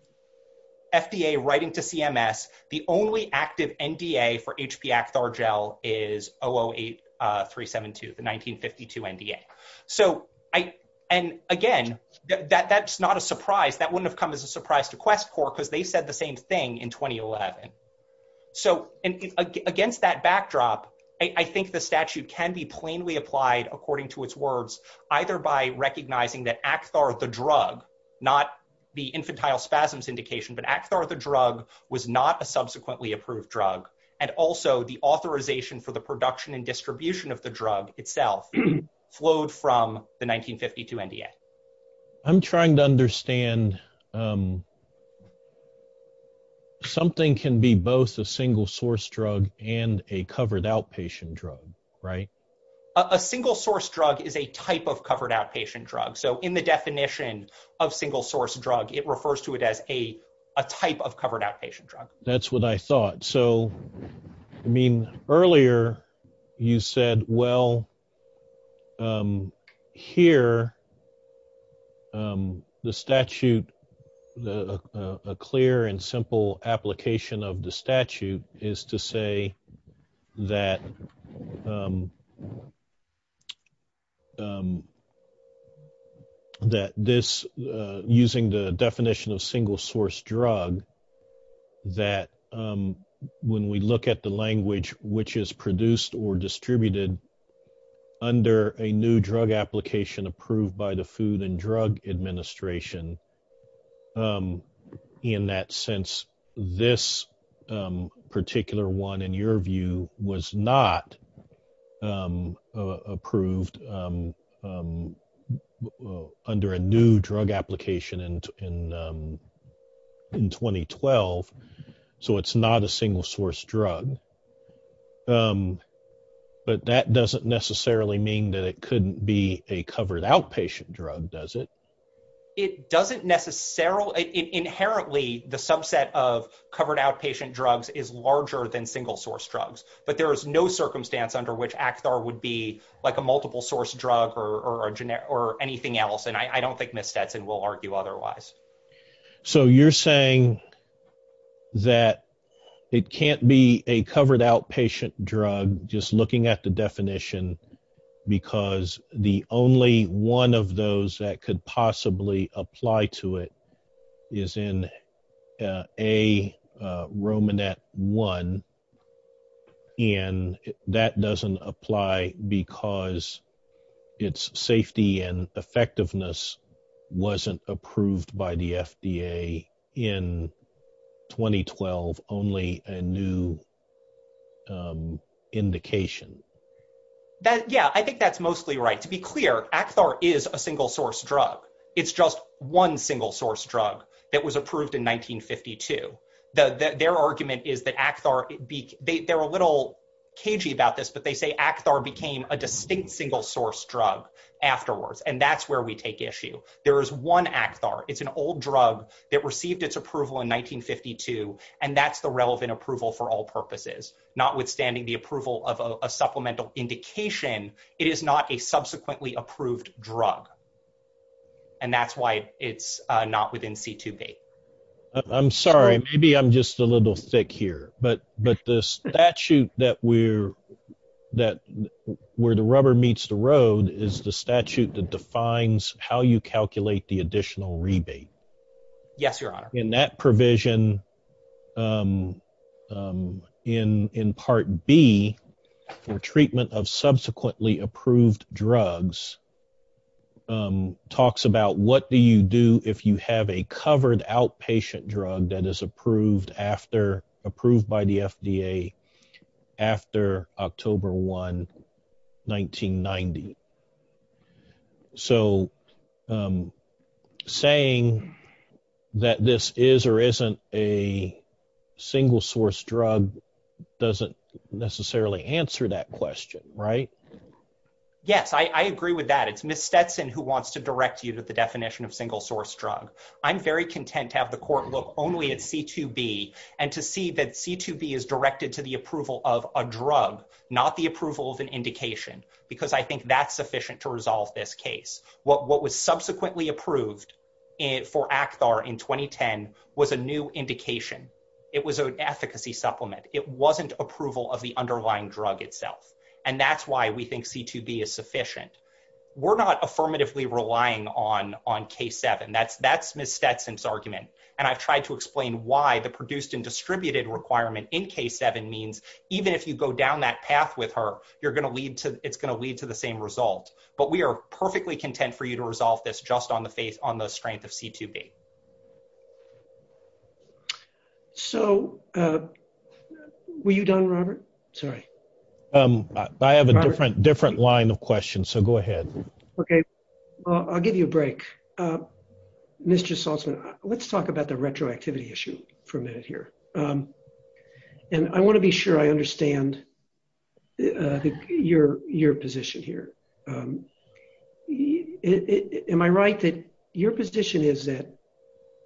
writing to CMS, the only active NDA for HPXR gel is 008372, the 1952 NDA. And again, that's not a surprise. That wouldn't have come as a surprise to QuestCorps because they said the same thing in 2011. So against that backdrop, I think the statute can be plainly applied according to its words, either by recognizing that ACTHAR the drug, not the infantile spasms indication, but ACTHAR the drug was not a subsequently approved drug. And also the authorization for the production and distribution of the drug itself flowed from the 1952 NDA. I'm trying to understand, something can be both a single source drug and a covered outpatient drug, right? A single source drug is a type of covered outpatient drug. So in the definition of single source drug, it refers to it as a type of covered outpatient drug. That's what I thought. So, I mean, earlier you said, well, here, the statute, a clear and simple application of the statute is to say that this, using the definition of single source drug, that when we look at the language which is produced or distributed under a new drug application approved by the Food and Drug Administration, in that sense, this particular one in your view was not approved under a new drug application in 2012. So it's not a single source drug. But that doesn't necessarily mean that it couldn't be a covered outpatient drug, does it? It doesn't necessarily, inherently, the subset of covered outpatient drugs is larger than single source drugs. But there is no circumstance under which ACTHAR would be like a multiple source drug or anything else. And I don't think Ms. Stetson will argue otherwise. So you're saying that it can't be a covered outpatient drug, just looking at the definition, because the only one of those that could possibly apply to it is in AROMANET 1. And that doesn't apply because its safety and effectiveness wasn't approved by the FDA in 2012, only a new indication. Yeah, I think that's mostly right. To be clear, ACTHAR is a single source drug. It's just one single source drug that was approved in 1952. Their argument is that ACTHAR, they're a little cagey about this, but they say ACTHAR became a distinct single source drug afterwards. And that's where we take issue. There is one ACTHAR. It's an old drug that received its approval in 1952. And that's the relevant approval for all purposes. Notwithstanding the approval of a supplemental indication, it is not a subsequently approved drug. And that's why it's not within C2B. I'm sorry. Maybe I'm just a little thick here. But the statute where the rubber meets the road is the statute that defines how you calculate the additional rebate. Yes, Your Honor. In that provision, in Part B, for treatment of subsequently approved drugs, talks about what do you do if you have a covered outpatient drug that is approved by the FDA after October 1, 1990. So, saying that this is or isn't a single source drug doesn't necessarily answer that question, right? Yes, I agree with that. It's Ms. Stetson who wants to direct you to the definition of single source drug. I'm very content to have the court only at C2B and to see that C2B is directed to the approval of a drug, not the approval of an indication. Because I think that's sufficient to resolve this case. What was subsequently approved for ACTHAR in 2010 was a new indication. It was an efficacy supplement. It wasn't approval of the underlying drug itself. And that's why we think C2B is why the produced and distributed requirement in K7 means even if you go down that path with her, it's going to lead to the same result. But we are perfectly content for you to resolve this just on the strength of C2B. So, were you done, Robert? Sorry. I have a different line of questions. So, go ahead. Okay. I'll give you a break. Ms. Gisalsman, let's talk about the retroactivity issue for a minute here. And I want to be sure I understand your position here. Am I right that your position is that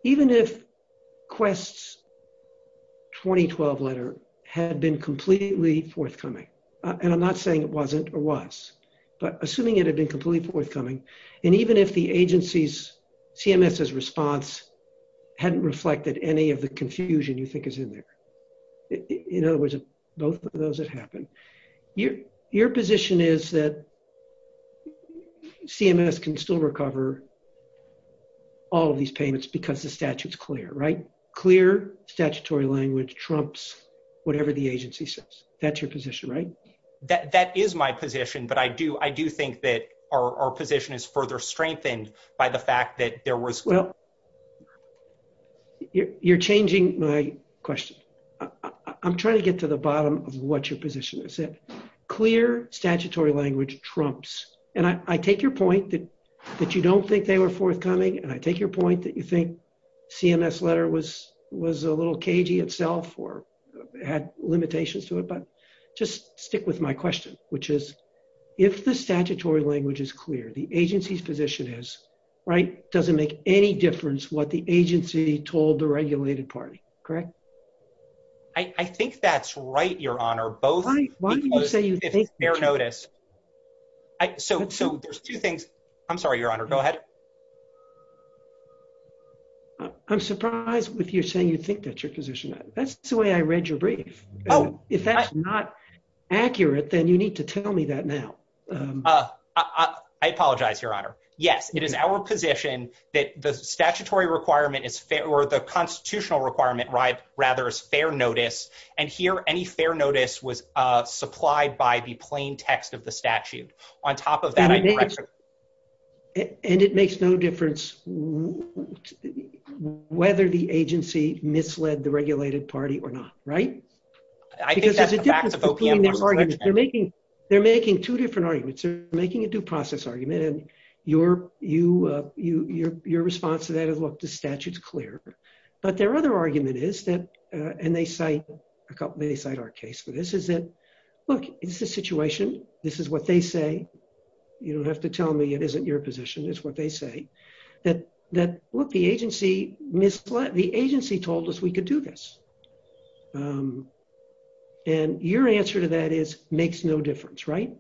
even if Quest's 2012 letter had been completely forthcoming, and I'm not saying it wasn't or was, but assuming it had been completely forthcoming, and even if the agency's CMS's response hadn't reflected any of the confusion you think is in there, in other words, both of those have happened, your position is that CMS can still recover all of these payments because the statute's clear, right? Clear statutory language trumps whatever the agency says. That's your position, right? That is my position, but I do think that our position is further strengthened by the fact that there was... Well, you're changing my question. I'm trying to get to the bottom of what your position is. Clear statutory language trumps, and I take your point that you don't think they were forthcoming, and I take your point that you was a little cagey itself or had limitations to it, but just stick with my question, which is, if the statutory language is clear, the agency's position is, right, doesn't make any difference what the agency told the regulated party, correct? I think that's right, your honor, both... Why do you say you think... Fair notice. So, there's two things... I'm sorry, your honor, go ahead. I'm surprised with you saying you think that's your position. That's the way I read your brief. Oh. If that's not accurate, then you need to tell me that now. I apologize, your honor. Yes, it is our position that the statutory requirement is fair, or the constitutional requirement, rather, is fair notice, and here, any fair notice was supplied by the plain text of the statute. On top of that... And it makes no difference whether the agency misled the regulated party or not, right? I think that's a fact... They're making two different arguments. They're making a due process argument, and your response to that is, look, the statute's clear. But their other argument is that, and they cite our case for this, is that, look, it's a situation, this is what they say, you don't have to tell me it isn't your position, it's what they say, that, look, the agency misled... The agency told us we could do this. And your answer to that is, makes no difference, right?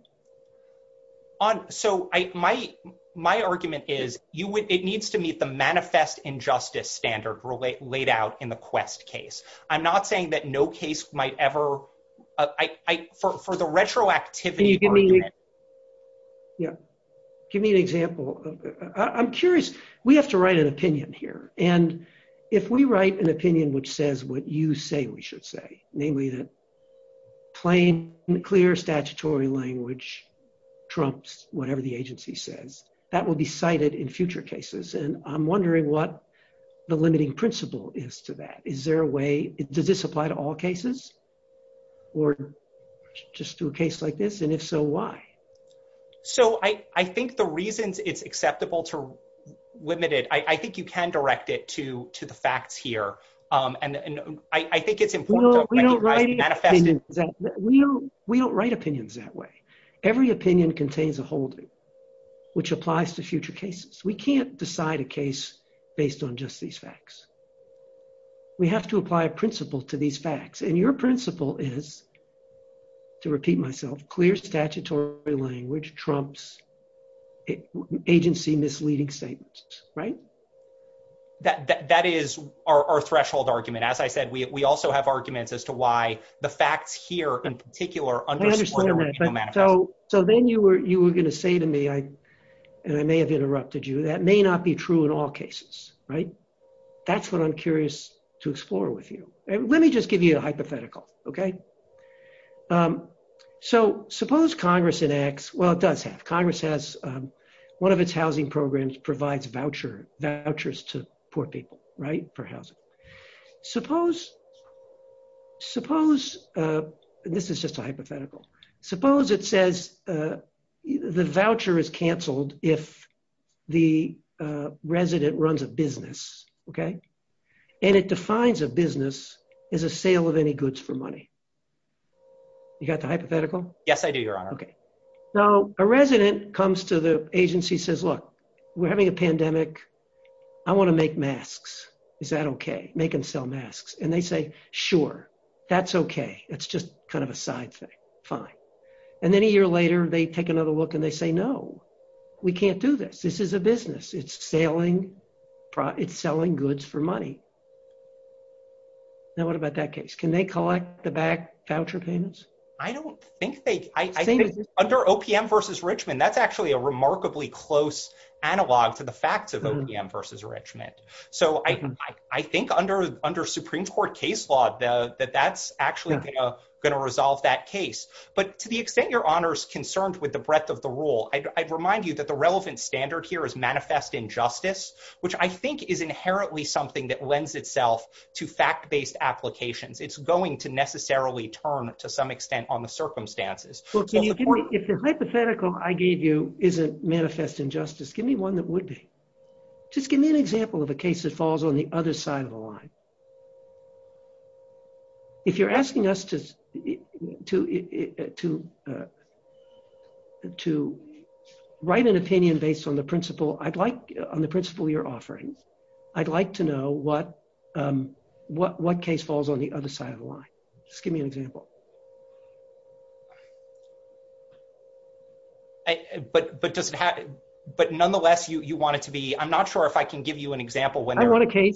So, my argument is, it needs to meet the manifest injustice standard laid out in the Quest case. I'm not saying that no case might ever... For the retroactivity... Can you give me an example? I'm curious, we have to write an opinion here, and if we write an opinion which says what you say we should say, namely that plain and clear statutory language trumps whatever the agency says, that will be cited in future cases, and I'm wondering what the limiting principle is to that. Is there a way... Does this apply to all cases, or just to a case like this, and if so, why? So, I think the reasons it's acceptable to limit it, I think you can direct it to the facts here, and I think it's important... We don't write opinions that way. Every opinion contains a holding, which applies to future cases. We can't decide a case based on just these facts. We have to apply a principle to these facts, and your principle is, to repeat myself, clear statutory language trumps agency misleading statements, right? That is our threshold argument. As I said, we also have arguments as to why the facts here, in particular... I understand that. So, then you were going to say to me, and I may have interrupted you, that may not be true in all cases, right? That's what I'm curious to explore with you. Let me just give you a hypothetical, okay? So, suppose Congress enacts... Well, it does have. Congress has one of its housing programs provides vouchers to poor people, right? For housing. Suppose... This is just a hypothetical. Suppose it says the voucher is canceled if the resident runs a business, okay? And it defines a business as a sale of any goods for money. You got the hypothetical? Yes, I do, Your Honor. Okay. Now, a resident comes to the is that okay? They can sell masks. And they say, sure. That's okay. It's just kind of a side thing. Fine. And then a year later, they take another look and they say, no, we can't do this. This is a business. It's selling goods for money. Now, what about that case? Can they collect the back voucher payments? I don't think they... I think under OPM versus Richmond, that's actually a remarkably close analog for the facts of OPM versus Richmond. So, I think under Supreme Court case law that that's actually going to resolve that case. But to the extent Your Honor's concerned with the breadth of the rule, I'd remind you that the relevant standard here is manifest injustice, which I think is inherently something that lends itself to fact-based applications. It's going to necessarily turn to some extent on the circumstances. If the hypothetical I gave you isn't manifest injustice, give me one that would be. Just give me an example of a case that falls on the other side of the line. If you're asking us to write an opinion based on the principle you're offering, I'd like to know what case falls on the other side of the line. Just give me an example. But does it have... But nonetheless, you want it to be... I'm not sure if I can give you an example when there is a limit. I want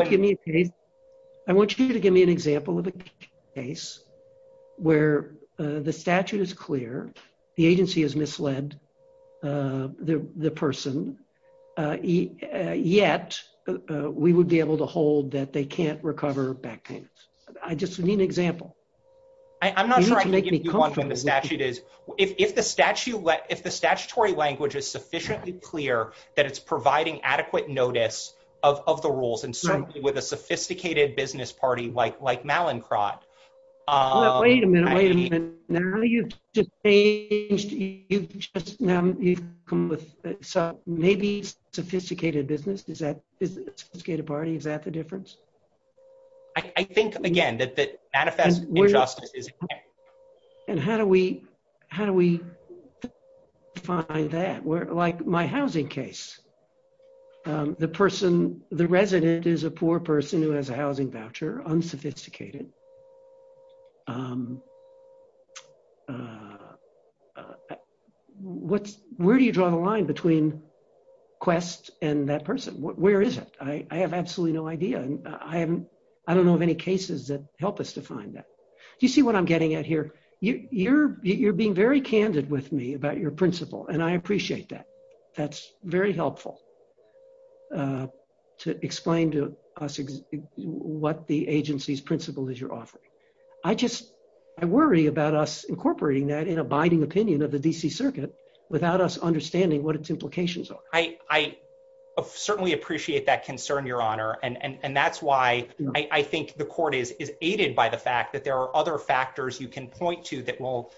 a case. I want you to give me an example of a case where the statute is clear, the agency has misled the person, yet we would be able to hold that they can't recover back payments. I just need an example. I'm not trying to give you one for the statute. If the statutory language is sufficiently clear that it's providing adequate notice of the rules, and certainly with a sophisticated business party like Mallinckrodt... Wait a minute. Now you've just changed... You've come with maybe sophisticated business. Is that a sophisticated party? Is that the difference? I think, again, that the manifest injustice is... And how do we find that? Like my housing case. The resident is a poor person who has a housing voucher, unsophisticated. Where do you draw the line between Quest and that person? Where is it? I have absolutely no idea. I don't know of any cases that help us define that. Do you see what I'm getting at here? You're being very candid with me about your principle, and I appreciate that. That's very helpful to explain to us what the agency's principle is you're offering. I worry about us incorporating that in a binding opinion of the D.C. Circuit without us understanding what its implications are. I certainly appreciate that concern, Your Honor, and that's why I think the court is aided by the fact that there are other factors you can point to that will...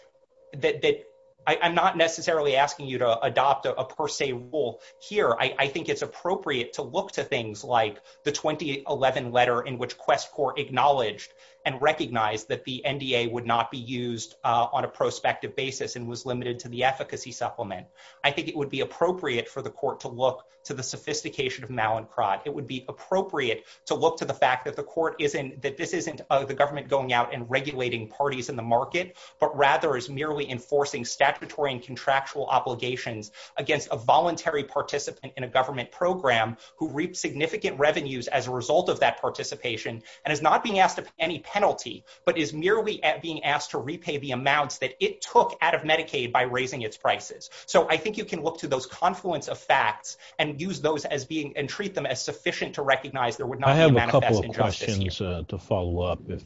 I'm not necessarily asking you to adopt a per se rule here. I think it's appropriate to look to things like the 2011 letter in which Quest Court acknowledged and recognized that the NDA would not be used on a prospective basis and was limited to the efficacy supplement. I think it would be appropriate for the court to look to the sophistication of Mallinckrodt. It would be appropriate to look to the fact that the court isn't... that this isn't the government going out and regulating parties in the market, but rather is merely enforcing statutory and contractual obligations against a voluntary participant in a government program who reaped significant revenues as a result of that participation and is not being asked of any penalty, but is merely being asked to repay the amounts that it took out of Medicaid by raising its prices. So I think you can look to those confluence of facts and use those as being... and treat them as sufficient to recognize there would not... I have a couple of questions to follow up if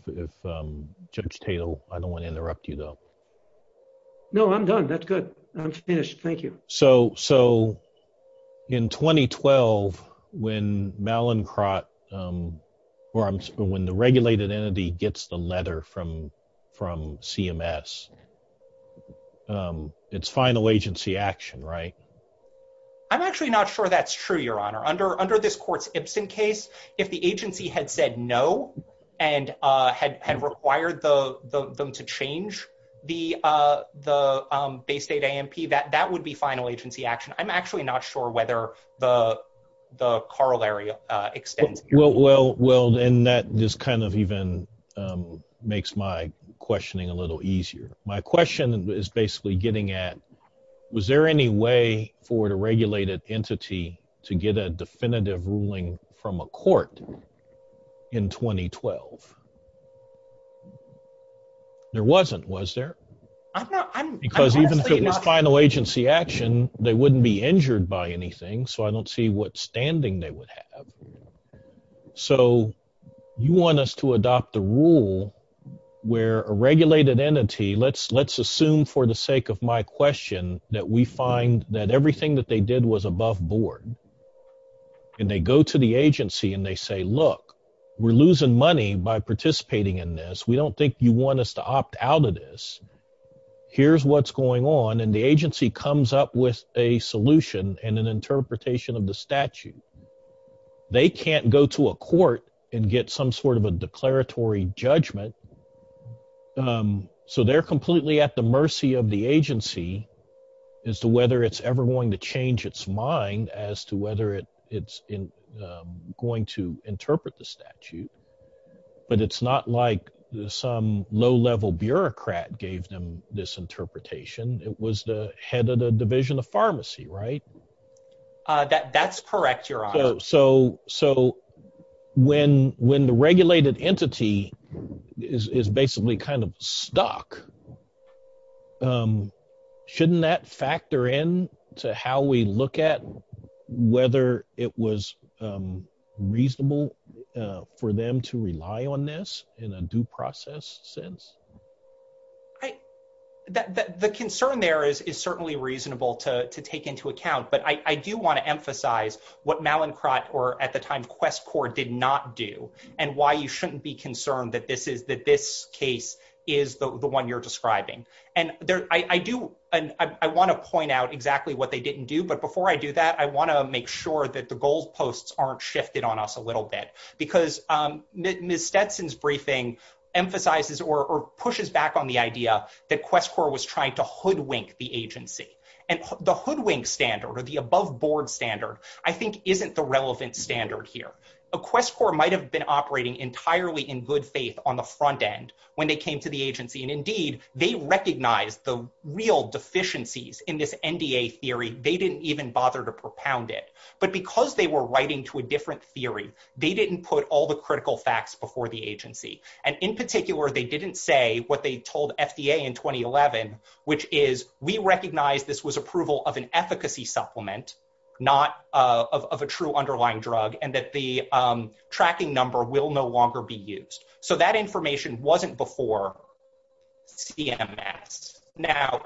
Judge Tatel... I don't want to interrupt you though. No, I'm done. That's good. I'm finished. Thank you. So in 2012, when Mallinckrodt... when the regulated entity gets the letter from CMS, it's final agency action, right? I'm actually not sure that's true, Your Honor. Under this court's Ibsen case, if the agency had said no and had required them to change the base data AMP, that would be final agency action. I'm actually not sure whether the corollary extends... Well, and that just kind of even makes my questioning a little easier. My question is basically getting at, was there any way for the regulated entity to get a definitive ruling from a court in 2012? There wasn't, was there? Because even if it was final agency action, they wouldn't be injured by anything, so I don't see what standing they would have. So you want us to adopt the rule where a regulated entity... let's assume for the sake of my question that we find that everything that they did was above board, and they go to the agency and they say, look, we're losing money by participating in this. We don't think you want us to opt out of this. Here's what's going on, and the agency comes up with a solution and an interpretation of the statute. They can't go to a court and get some sort of a declaratory judgment, so they're completely at the mercy of the agency as to whether it's ever going to change its mind as to whether it's going to interpret the statute. But it's not like some low-level bureaucrat gave them this interpretation. It was the head of the division of pharmacy, right? That's correct, Your Honor. So when the regulated entity is basically kind of stuck, shouldn't that factor in to how we look at whether it was reasonable for them to rely on this in a due process sense? The concern there is certainly reasonable to take into account, but I do want to emphasize what Mallinckrodt or at the time QuestCorps did not do and why you shouldn't be concerned that this case is the one you're describing. And I want to point out exactly what they didn't do, but before I do that, I want to make sure that the goal posts aren't shifted on us a little bit, because Ms. Stetson's briefing emphasizes or pushes back on the idea that QuestCorps was trying to hoodwink the agency. And the hoodwink standard or the above board standard, I think, isn't the relevant standard here. QuestCorps might have been operating entirely in good faith on the front end when they came to the agency, and indeed, they recognized the real deficiencies in this NDA theory. They didn't even bother to propound it. But because they were writing to a different theory, they didn't put all the critical facts before the agency. And in particular, they didn't say what they told FDA in 2011, which is, we recognize this was approval of an efficacy supplement, not of a true underlying drug, and that the tracking number will no longer be used. So that information wasn't before CMS. Now,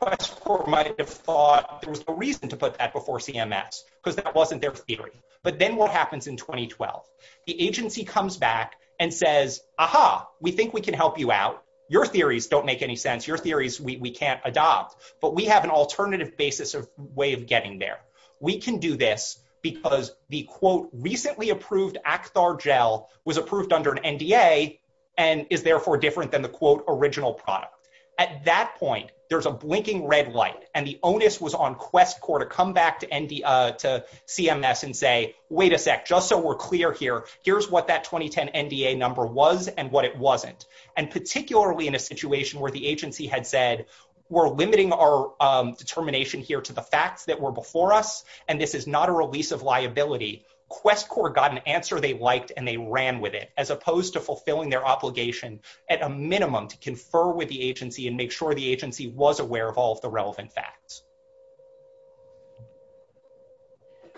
QuestCorps might have thought there was a reason to put that before CMS, because that wasn't their theory. But then what happens in 2012? The agency comes back and says, aha, we think we can help you out. Your theories don't make any sense. Your theories we can't adopt. But we have an alternative basis or way of getting there. We can do this because the, quote, recently approved Actar gel was approved under an NDA and is therefore different than the, quote, original product. At that point, there's a blinking red light, and the onus was on QuestCorps to come back to CMS and say, wait a sec, just so we're clear here, here's what that 2010 NDA number was and what it wasn't. And particularly in a situation where the agency had said, we're limiting our determination here to the facts that were before us, and this is not a release of liability, QuestCorps got an answer they liked, and they ran with it, as opposed to fulfilling their obligation at a minimum to confer with the agency and make sure the agency was aware of all of the relevant facts.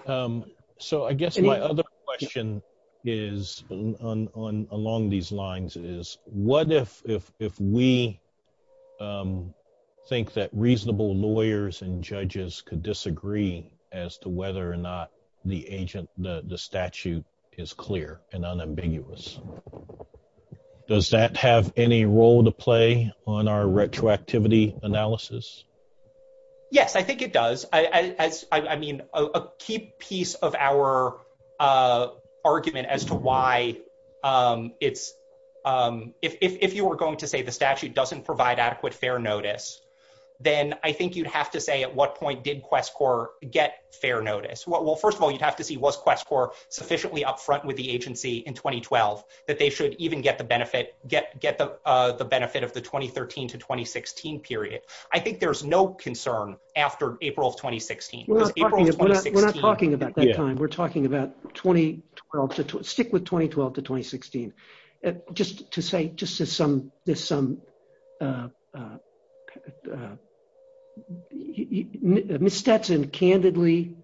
So I guess my other question is, along these lines, is what if we think that reasonable lawyers and judges could disagree as to whether or not the statute is clear and unambiguous? Does that have any role to play on our retroactivity analysis? Yes, I think it does. I mean, a key piece of our argument as to why it's, if you were going to say the statute doesn't provide adequate fair notice, then I think you'd have to say at what point did QuestCorps get fair notice? Well, first of all, you'd have to see was QuestCorps sufficiently up front with the agency in 2012 that they should even get the benefit of the 2013 to 2016 period. I think there's no concern after April of 2016. We're not talking about that time. We're talking about 2012 to, stick with 2012 to 2016. Just to say, just to some, there's some, Ms. Stetson candidly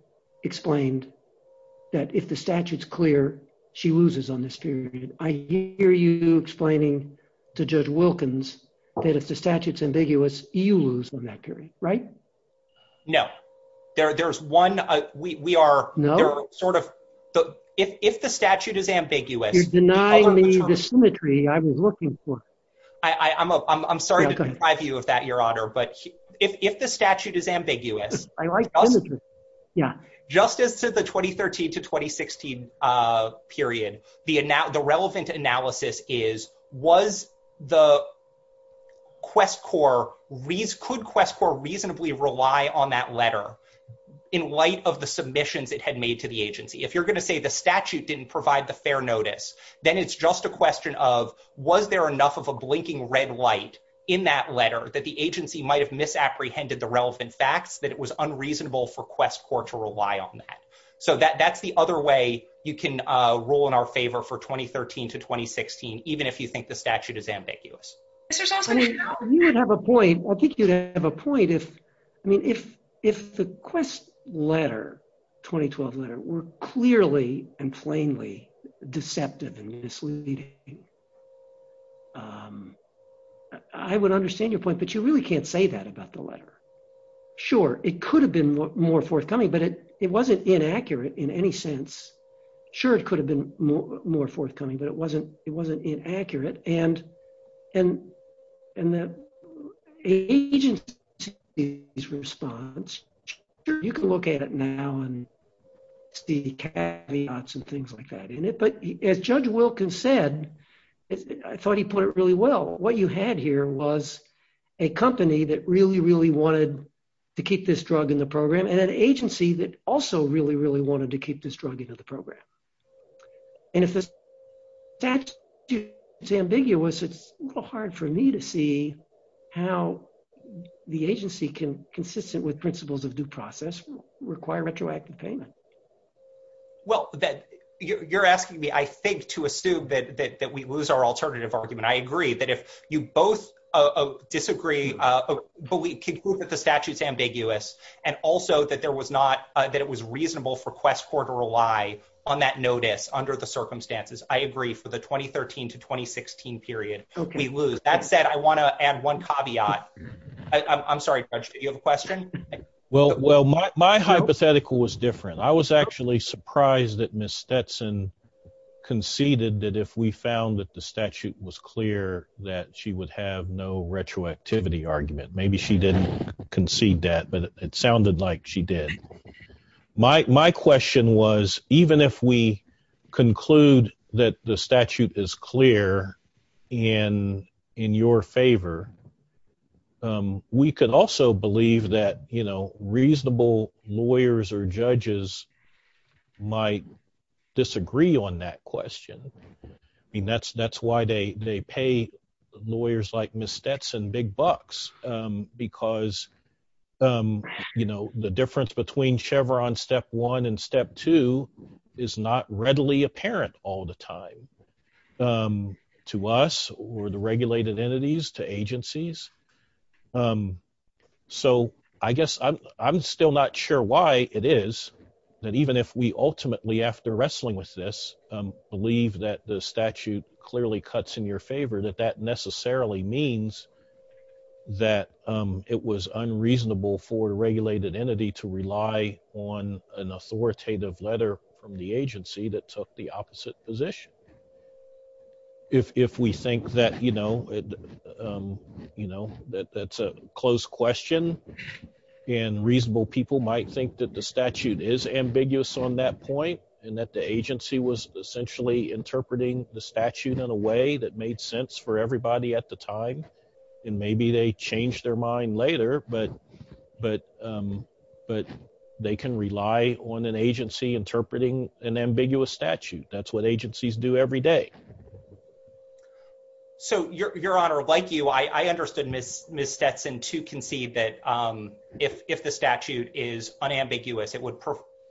explained that if the statute's clear, she loses on this period. I hear you explaining to Judge Wilkins that if the statute's ambiguous, you lose on that period, right? No. There's one, we are sort of, if the statute is ambiguous. You're denying me the symmetry I was looking for. I'm sorry to deprive you of that, Your Honor, but if the statute is ambiguous, justice to the 2013 to 2016 period, the relevant analysis is was the QuestCorps, could QuestCorps reasonably rely on that letter in light of the submissions it had made to the agency? If you're going to say the statute didn't provide the fair notice, then it's just a question of was there enough of a blinking red light in that letter that the agency might have misapprehended the relevant facts that it was unreasonable for QuestCorps to rely on that. So that's the other way you can rule in our favor for 2013 to 2016, even if you statute is ambiguous. You would have a point, I think you'd have a point if, I mean, if the Quest letter, 2012 letter, were clearly and plainly deceptive and misleading, I would understand your point, but you really can't say that about the letter. Sure, it could have been more forthcoming, but it wasn't inaccurate in any sense. Sure, it could have been more forthcoming, but it wasn't inaccurate, and the agency's response, you can look at it now and see caveats and things like that in it, but as Judge Wilkins said, I thought he put it really well, what you had here was a company that really, really wanted to keep this drug in the program and an agency that also really, really wanted to keep this drug in the program. And if the statute is ambiguous, it's hard for me to see how the agency can, consistent with principles of due process, require retroactive payment. Well, you're asking me, I think, to assume that we lose our alternative argument. I agree that if you both disagree, but we can prove that the statute's ambiguous, and also that there was not, that it was reasonable for QuestCorps to rely on that notice under the circumstances. I agree for the 2013 to 2016 period, we lose. That said, I want to add one caveat. I'm sorry, Judge, do you have a question? Well, my hypothetical was different. I was actually surprised that Ms. Stetson conceded that if we found that the statute was clear, that she would have no retroactivity argument. Maybe she didn't concede that, but it sounded like she did. My question was, even if we conclude that the statute is clear and in your favor, we can also believe that reasonable lawyers or judges might disagree on that question. That's why they pay lawyers like Ms. Stetson big bucks, because the difference between Chevron Step 1 and Step 2 is not readily apparent all the time to us or the regulated entities, to agencies. So I guess I'm still not sure why it is that even if we ultimately, after wrestling with this, believe that the statute clearly cuts in your favor, that that necessarily means that it was unreasonable for a regulated entity to rely on an authoritative letter from the agency that took the opposite position. If we think that that's a closed question and reasonable people might think that the statute is ambiguous on that point and that the agency was essentially interpreting the statute in a way that made sense for everybody at the time, then maybe they change their mind later, but they can rely on an agency interpreting an ambiguous statute. That's what agencies do every day. So your honor, like you, I understood Ms. Stetson to concede that if the statute is unambiguous, it would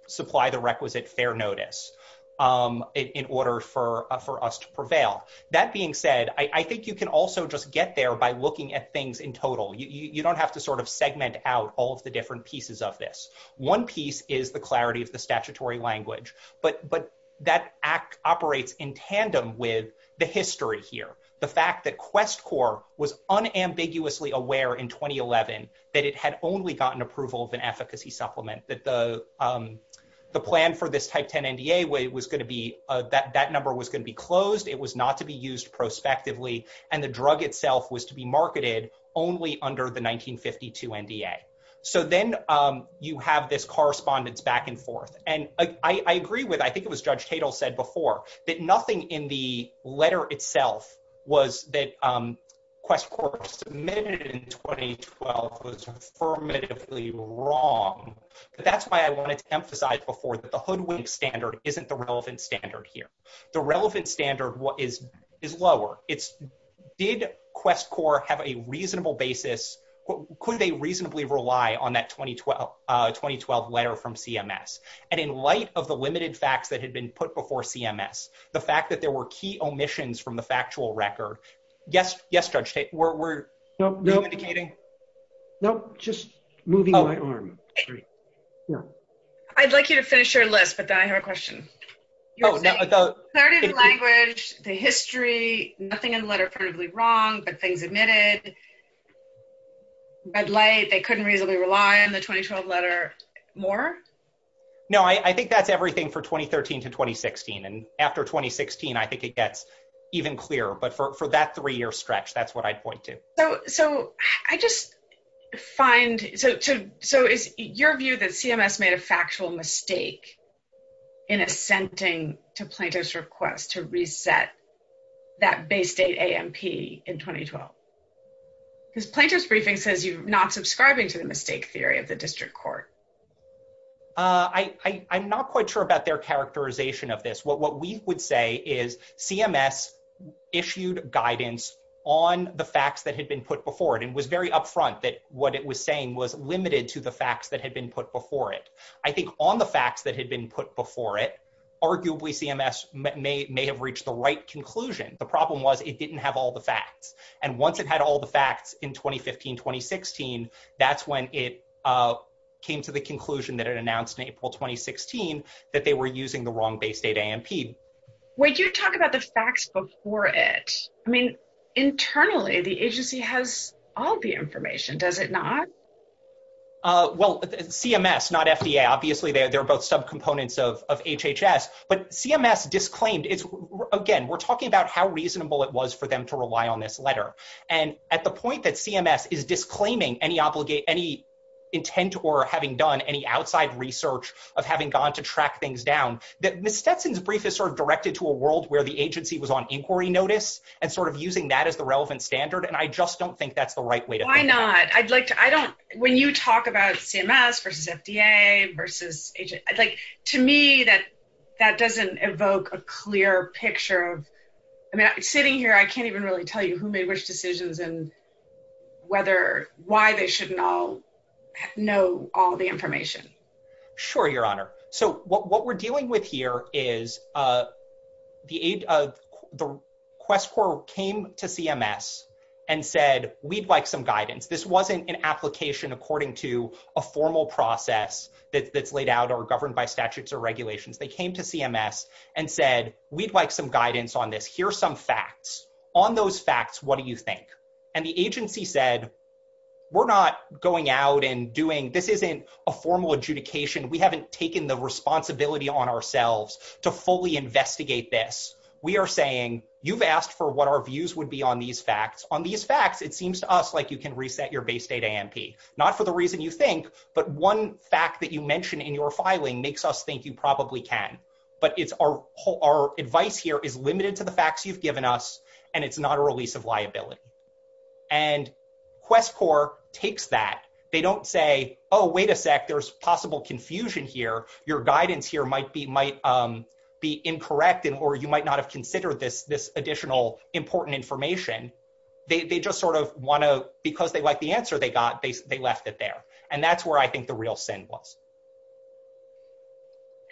supply the requisite fair notice in order for us to prevail. That being said, I think you can also just get there by looking at things in total. You don't have to sort of segment out all of the different pieces of this. One piece is the clarity of the statutory language, but that operates in tandem with the history here. The fact that QuestCorps was unambiguously aware in 2011 that it had only gotten approval of an efficacy supplement, that the plan for this type 10 NDA was going to be, that number was going to be closed. It was not to be used prospectively and the drug itself was to be marketed only under the 1952 NDA. So then you have this correspondence back and forth. And I agree with, I think it was Judge Tatel said before, that nothing in the letter itself was that QuestCorps submitted in 2012 was affirmatively wrong. But that's why I wanted to emphasize before that the Hoodwink standard isn't the relevant standard here. The relevant standard is lower. It's did QuestCorps have a reasonable basis? Could they reasonably rely on that 2012 letter from CMS? And in light of the limited facts that had been put before CMS, the fact that there were key omissions from the No, just moving my arm. I'd like you to finish your list, but then I have a question. Standard language, the history, nothing in the letter pertinently wrong, but things admitted. They couldn't reasonably rely on the 2012 letter more? No, I think that's everything for 2013 to 2016. And after 2016, I think it gets even clearer. But for that three year stretch, that's what I pointed. So I just find, so is your view that CMS made a factual mistake in assenting to Plaintiff's request to reset that base date AMP in 2012? Because Plaintiff's briefing says you're not subscribing to the mistake theory of the district court. I'm not quite sure about their characterization of this. What we would say is CMS issued guidance on the facts that had been put before it and was very upfront that what it was saying was limited to the facts that had been put before it. I think on the facts that had been put before it, arguably CMS may have reached the right conclusion. The problem was it didn't have all the facts. And once it had all the facts in 2015, 2016, that's when it came to the conclusion that it announced in April, 2016, that they were using the wrong base date AMP. Wait, you're talking about the facts before it. I mean, internally, the agency has all the information, does it not? Well, CMS, not FDA. Obviously, they're both subcomponents of HHS. But CMS disclaimed, again, we're talking about how reasonable it was for them to rely on this letter. And at the point that CMS is disclaiming any intent or having done any outside research of having gone to track things down, Ms. Stetson's brief is sort of directed to a world where the agency was on inquiry notice and sort of using that as the relevant standard. And I just don't think that's the right way to think about it. Why not? When you talk about CMS versus FDA versus HHS, to me, that doesn't evoke a clear picture of... Sitting here, I can't even really tell you who made which decisions and why they should know all the information. Sure, Your Honor. So, what we're dealing with here is the Quest Corps came to CMS and said, we'd like some guidance. This wasn't an application according to a formal process that's laid out or governed by statutes or regulations. They came to CMS and said, we'd like some guidance on this. Here's some facts. On those facts, what do you think? And the agency said, we're not going out and doing... This isn't a formal adjudication. We haven't taken the responsibility on ourselves to fully investigate this. We are saying, you've asked for what our views would be on these facts. On these facts, it seems to us like you can reset your base state AMP. Not for the reason you think, but one fact that you mentioned in your filing makes us think you probably can. But our advice here is limited to the facts you've given us, and it's not a release of liability. And Quest Corps takes that. They don't say, oh, wait a sec, there's possible confusion here. Your guidance here might be incorrect, or you might not have considered this additional important information. They just sort of want to, because they like the answer they got, they left it there. And that's where I think the real sin was.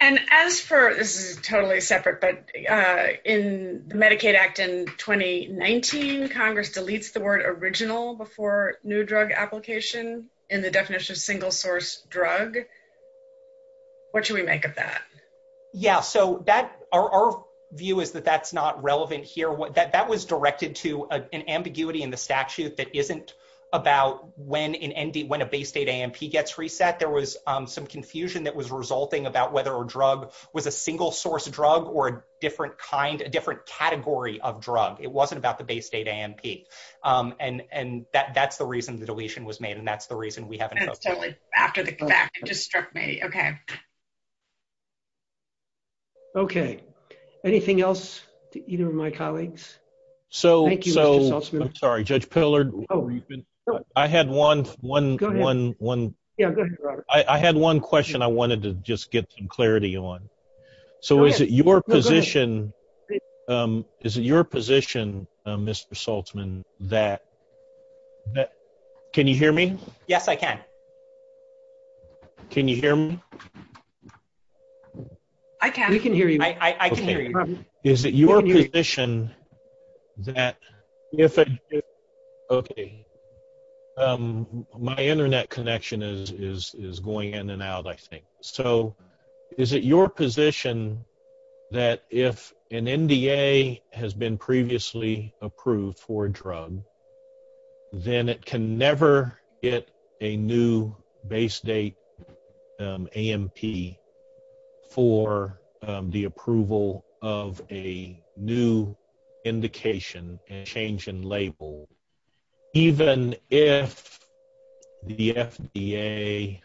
And as for... This is totally separate, but in the Medicaid Act in 2019, Congress deletes the word original before new drug application, and the definition is single-source drug. What should we make of that? Yeah, so our view is that that's not relevant here. That was directed to an ambiguity in the statute that isn't about when a base state AMP gets reset. There was some confusion that was resulting about whether a drug was a single-source drug or a different category of drug. It wasn't about the base state AMP. And that's the reason the deletion was made, and that's the reason we haven't... After the fact, it just struck me. Okay. Okay. Anything else to either of my colleagues? So, I'm sorry, Judge Pillard, I had one... I had one question I wanted to just get some clarity on. So, is it your position... Is it your position, Mr. Saltzman, that... Can you hear me? Yes, I can. Can you hear me? I can. We can hear you. I can hear you. Is it your position that... Okay. My internet connection is going in and out, I think. So, is it your position that if an NDA has been previously approved for a drug, then it can never get a new base state AMP for the approval of a new indication, a change in label, even if the FDA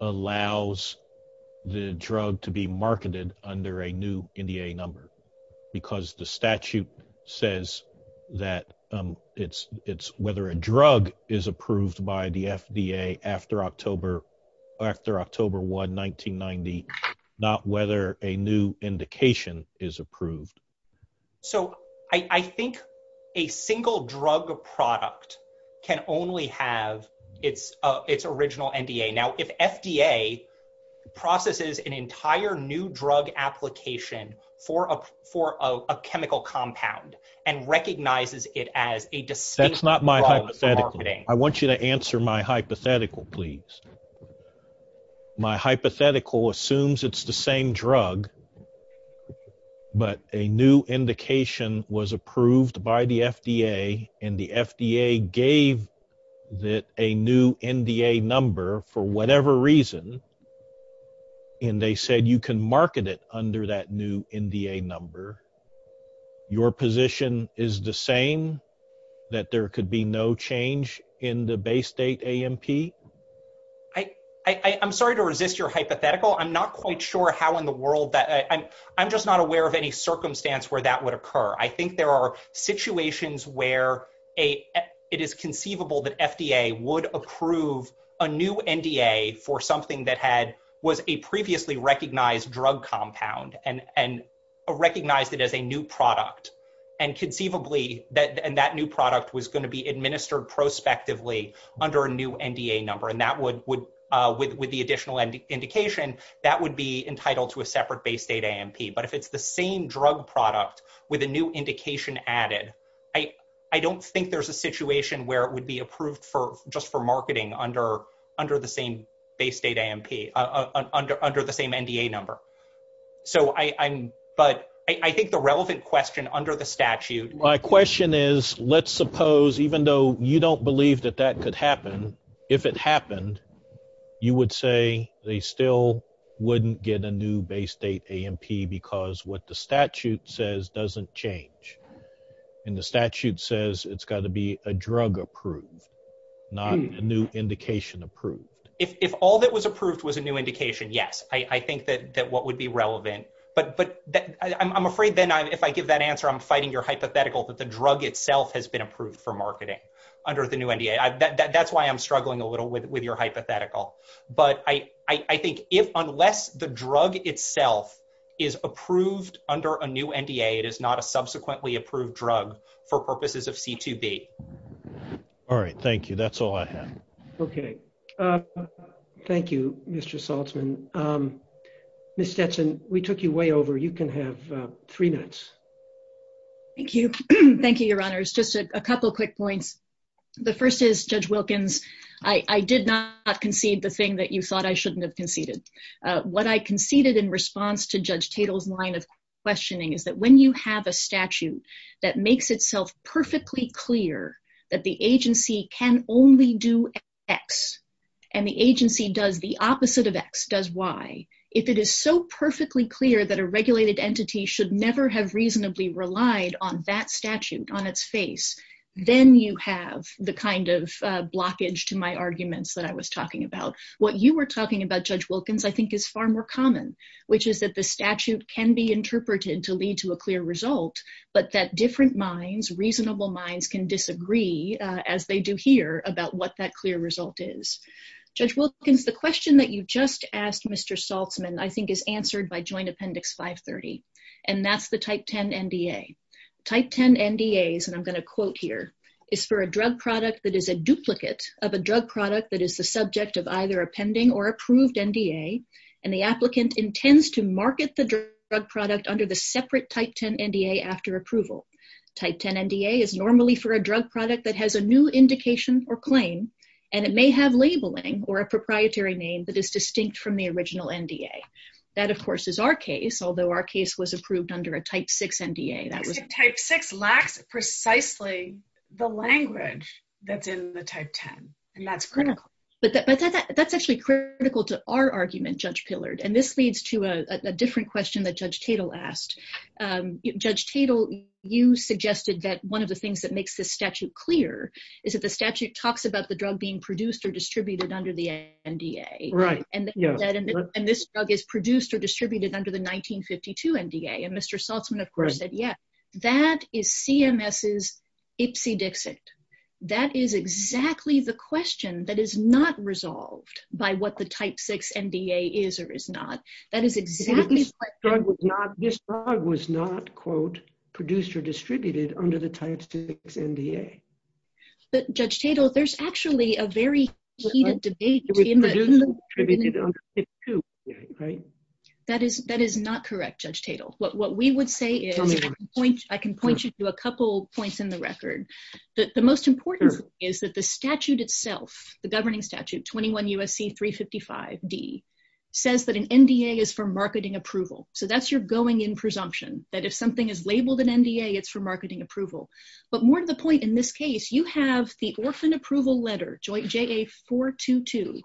allows the drug to be marketed under a new NDA number? Because the statute says that it's whether a drug is approved by the FDA after October 1, 1990, not whether a new indication is approved. So, I think a single drug product can only have its original NDA. Now, if FDA processes an entire new drug application for a chemical compound and recognizes it as a distinct drug... I want you to answer my hypothetical, please. My hypothetical assumes it's the same drug, but a new indication was approved by the FDA, and the FDA gave it a new NDA number for whatever reason, and they said you can market it under that new NDA number. Your position is the same, that there could be no change in the base state AMP? I'm sorry to resist your hypothetical. I'm not quite sure how in the world that... I'm just not aware of any circumstance where that would occur. I think there are situations where it is conceivable that FDA would approve a new NDA for something that had was a previously recognized drug compound and recognized it as a new product. Conceivably, that new product was going to be administered prospectively under a new NDA number, and with the additional indication, that would be entitled to a separate base state AMP. But if it's the same drug product with a new indication added, I don't think there's a under the same NDA number. But I think the relevant question under the statute... My question is, let's suppose, even though you don't believe that that could happen, if it happened, you would say they still wouldn't get a new base state AMP because what the statute says doesn't change, and the statute says it's got to be a drug approved, not a new indication approved. If all that was approved was a new indication, yes, I think that what would be relevant. But I'm afraid, Ben, if I give that answer, I'm fighting your hypothetical that the drug itself has been approved for marketing under the new NDA. That's why I'm struggling a little with your hypothetical. But I think if unless the drug itself is approved under a new NDA, it is not a subsequently approved drug for purposes of C2B. All right. Thank you. That's all I have. Okay. Thank you, Mr. Saltzman. Ms. Stetson, we took you way over. You can have three minutes. Thank you. Thank you, Your Honors. Just a couple of quick points. The first is, Judge Wilkins, I did not concede the thing that you thought I shouldn't have conceded. What I conceded in response to Judge Tatel's line of questioning is that when you have a statute that makes itself perfectly clear that the agency can only do X and the agency does the opposite of X, does Y, if it is so perfectly clear that a regulated entity should never have reasonably relied on that statute, on its face, then you have the kind of blockage to my arguments that I was talking about. What you were talking about, Judge Wilkins, I think is far more common, which is that the statute can be interpreted to lead to a clear result, but that different minds, reasonable minds, can disagree, as they do here, about what that clear result is. Judge Wilkins, the question that you just asked Mr. Saltzman I think is answered by Joint Appendix 530, and that's the Type 10 NDA. Type 10 NDAs, and I'm going to quote here, is for a drug product that is a duplicate of a drug product that is the subject of either a pending or approved NDA, and the applicant intends to market the drug product under the separate Type 10 NDA after approval. Type 10 NDA is normally for a drug product that has a new indication or claim, and it may have labeling or a proprietary name that is distinct from the original NDA. That, of course, is our case, although our case was approved under a Type 6 NDA. I think Type 6 lacks precisely the language that's in the Type 10, and that's critical. That's actually critical to our argument, Judge Pillard, and this leads to a different question that Judge Tatel asked. Judge Tatel, you suggested that one of the things that makes this statute clear is that the statute talks about the drug being produced or distributed under the NDA, and this drug is produced or distributed under the 1952 NDA, and Mr. Saltzman of course said, that is CMS's ipsy dixit. That is exactly the question that is not resolved by what the Type 6 NDA is or is not. This drug was not, quote, produced or distributed under the Type 6 NDA. Judge Tatel, there's actually a very heated debate... That is not correct, Judge Tatel. What we would say is... I can point you to a couple points in the record. The most important is that the statute itself, the governing statute, 21 U.S.C. 355 D, says that an NDA is for marketing approval, so that's your going in presumption, that if something is labeled an NDA, it's for marketing approval, but more to the point, in this case, you have the orphan approval letter, Joint JA 422,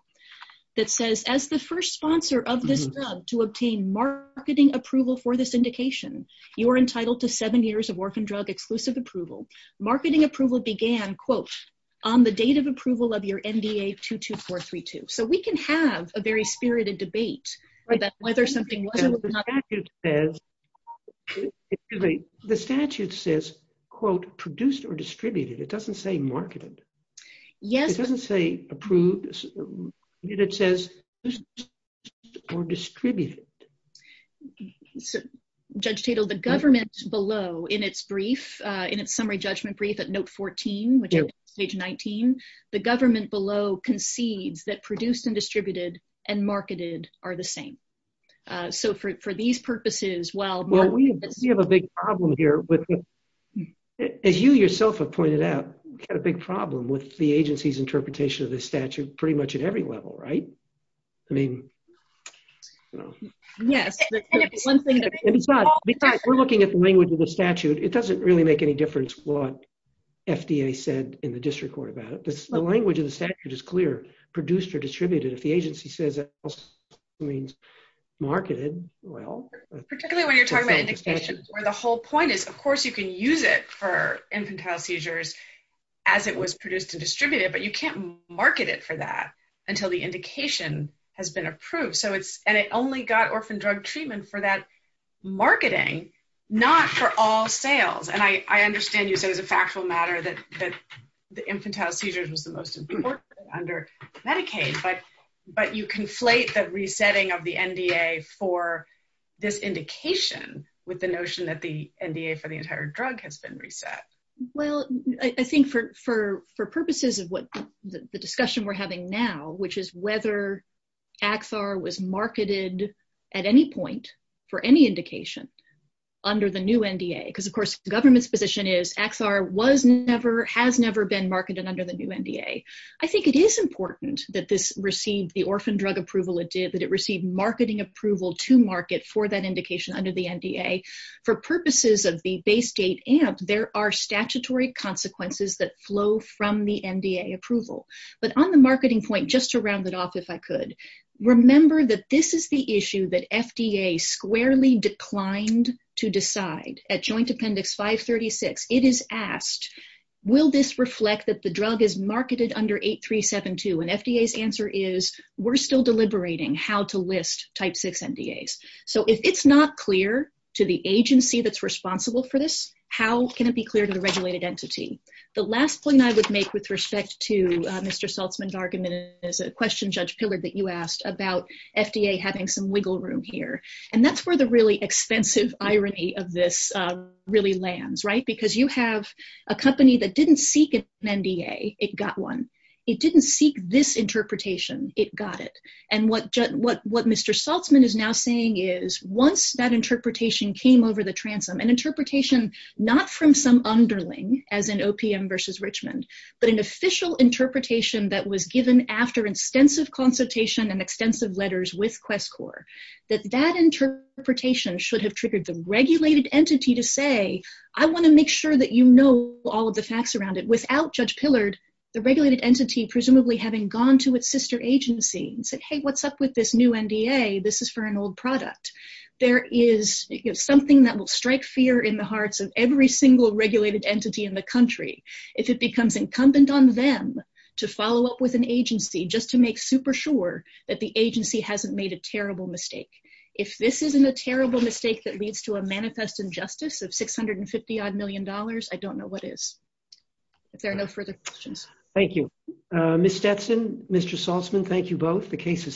that says, as the first sponsor of this drug to obtain marketing approval for this indication, you are entitled to seven years of orphan drug exclusive approval. Marketing approval began, quote, on the date of approval of your NDA 22432. So we can have a very spirited debate about whether something was or was not... The statute says, quote, produced or distributed. It doesn't say marketed. It doesn't say approved. It says produced or distributed. Judge Tatel, the government below, in its brief, in its summary judgment brief at note 14, which is page 19, the government below concedes that produced and distributed and marketed are the same. So for these purposes, while... Well, we have a big problem here with... As you yourself have pointed out, we've got a big problem with the agency's interpretation of the statute pretty much at every level, right? I mean, you know... Yes. And it's one thing that... Because we're looking at the language of the statute, it doesn't really make any difference what FDA said in the district court about it. The language of the statute is clear, produced or distributed. If the agency says it also means marketed, well... Particularly when you're talking about indications, where the whole point is, of course, you can use it for infantile seizures as it was produced and distributed, but you can't market it for that until the indication has been approved. So it's... And it only got orphan drug treatment for that marketing, not for all sales. And I understand you, so it's a factual matter that the infantile seizures was the most important under Medicaid, but you conflate the resetting of the NDA for this indication with the notion that the NDA for the entire drug has been reset. Well, I think for purposes of what the discussion we're having now, which is whether AXAR was marketed at any point for any indication under the new NDA, because of course, the government's position is AXAR has never been marketed under the new NDA. I think it is important that this received the orphan drug approval it did, that it received marketing approval to market for that indication under the NDA. For purposes of the base gate amp, there are statutory consequences that flow from the NDA approval. But on the marketing point, just to round it off, if I could, remember that this is the issue that FDA squarely declined to decide. At Joint Appendix 536, it is asked, will this reflect that the drug is marketed under 8372? And FDA's answer is, we're still the agency that's responsible for this. How can it be clear to the regulated entity? The last point I would make with respect to Mr. Saltzman's argument is a question, Judge Pillard, that you asked about FDA having some wiggle room here. And that's where the really extensive irony of this really lands, right? Because you have a company that didn't seek an NDA, it got one. It didn't seek this interpretation, it got it. And what Mr. Saltzman is now saying is, once that interpretation came over the transom, an interpretation not from some underling, as in OPM versus Richmond, but an official interpretation that was given after extensive consultation and extensive letters with QuestCorps, that that interpretation should have triggered the regulated entity to say, I want to make sure that you know all of the facts around it. Without Judge Pillard, the regulated entity presumably having gone to its sister agency and said, hey, what's up with this new NDA? This is for an old product. There is something that will strike fear in the hearts of every single regulated entity in the country. If it becomes incumbent on them to follow up with an agency just to make super sure that the agency hasn't made a terrible mistake. If this isn't a terrible mistake that leads to a manifest injustice of $650 odd million, I don't know what is. If there are no further questions. Thank you. Ms. Stetson, Mr. Saltzman, thank you both. The case is submitted.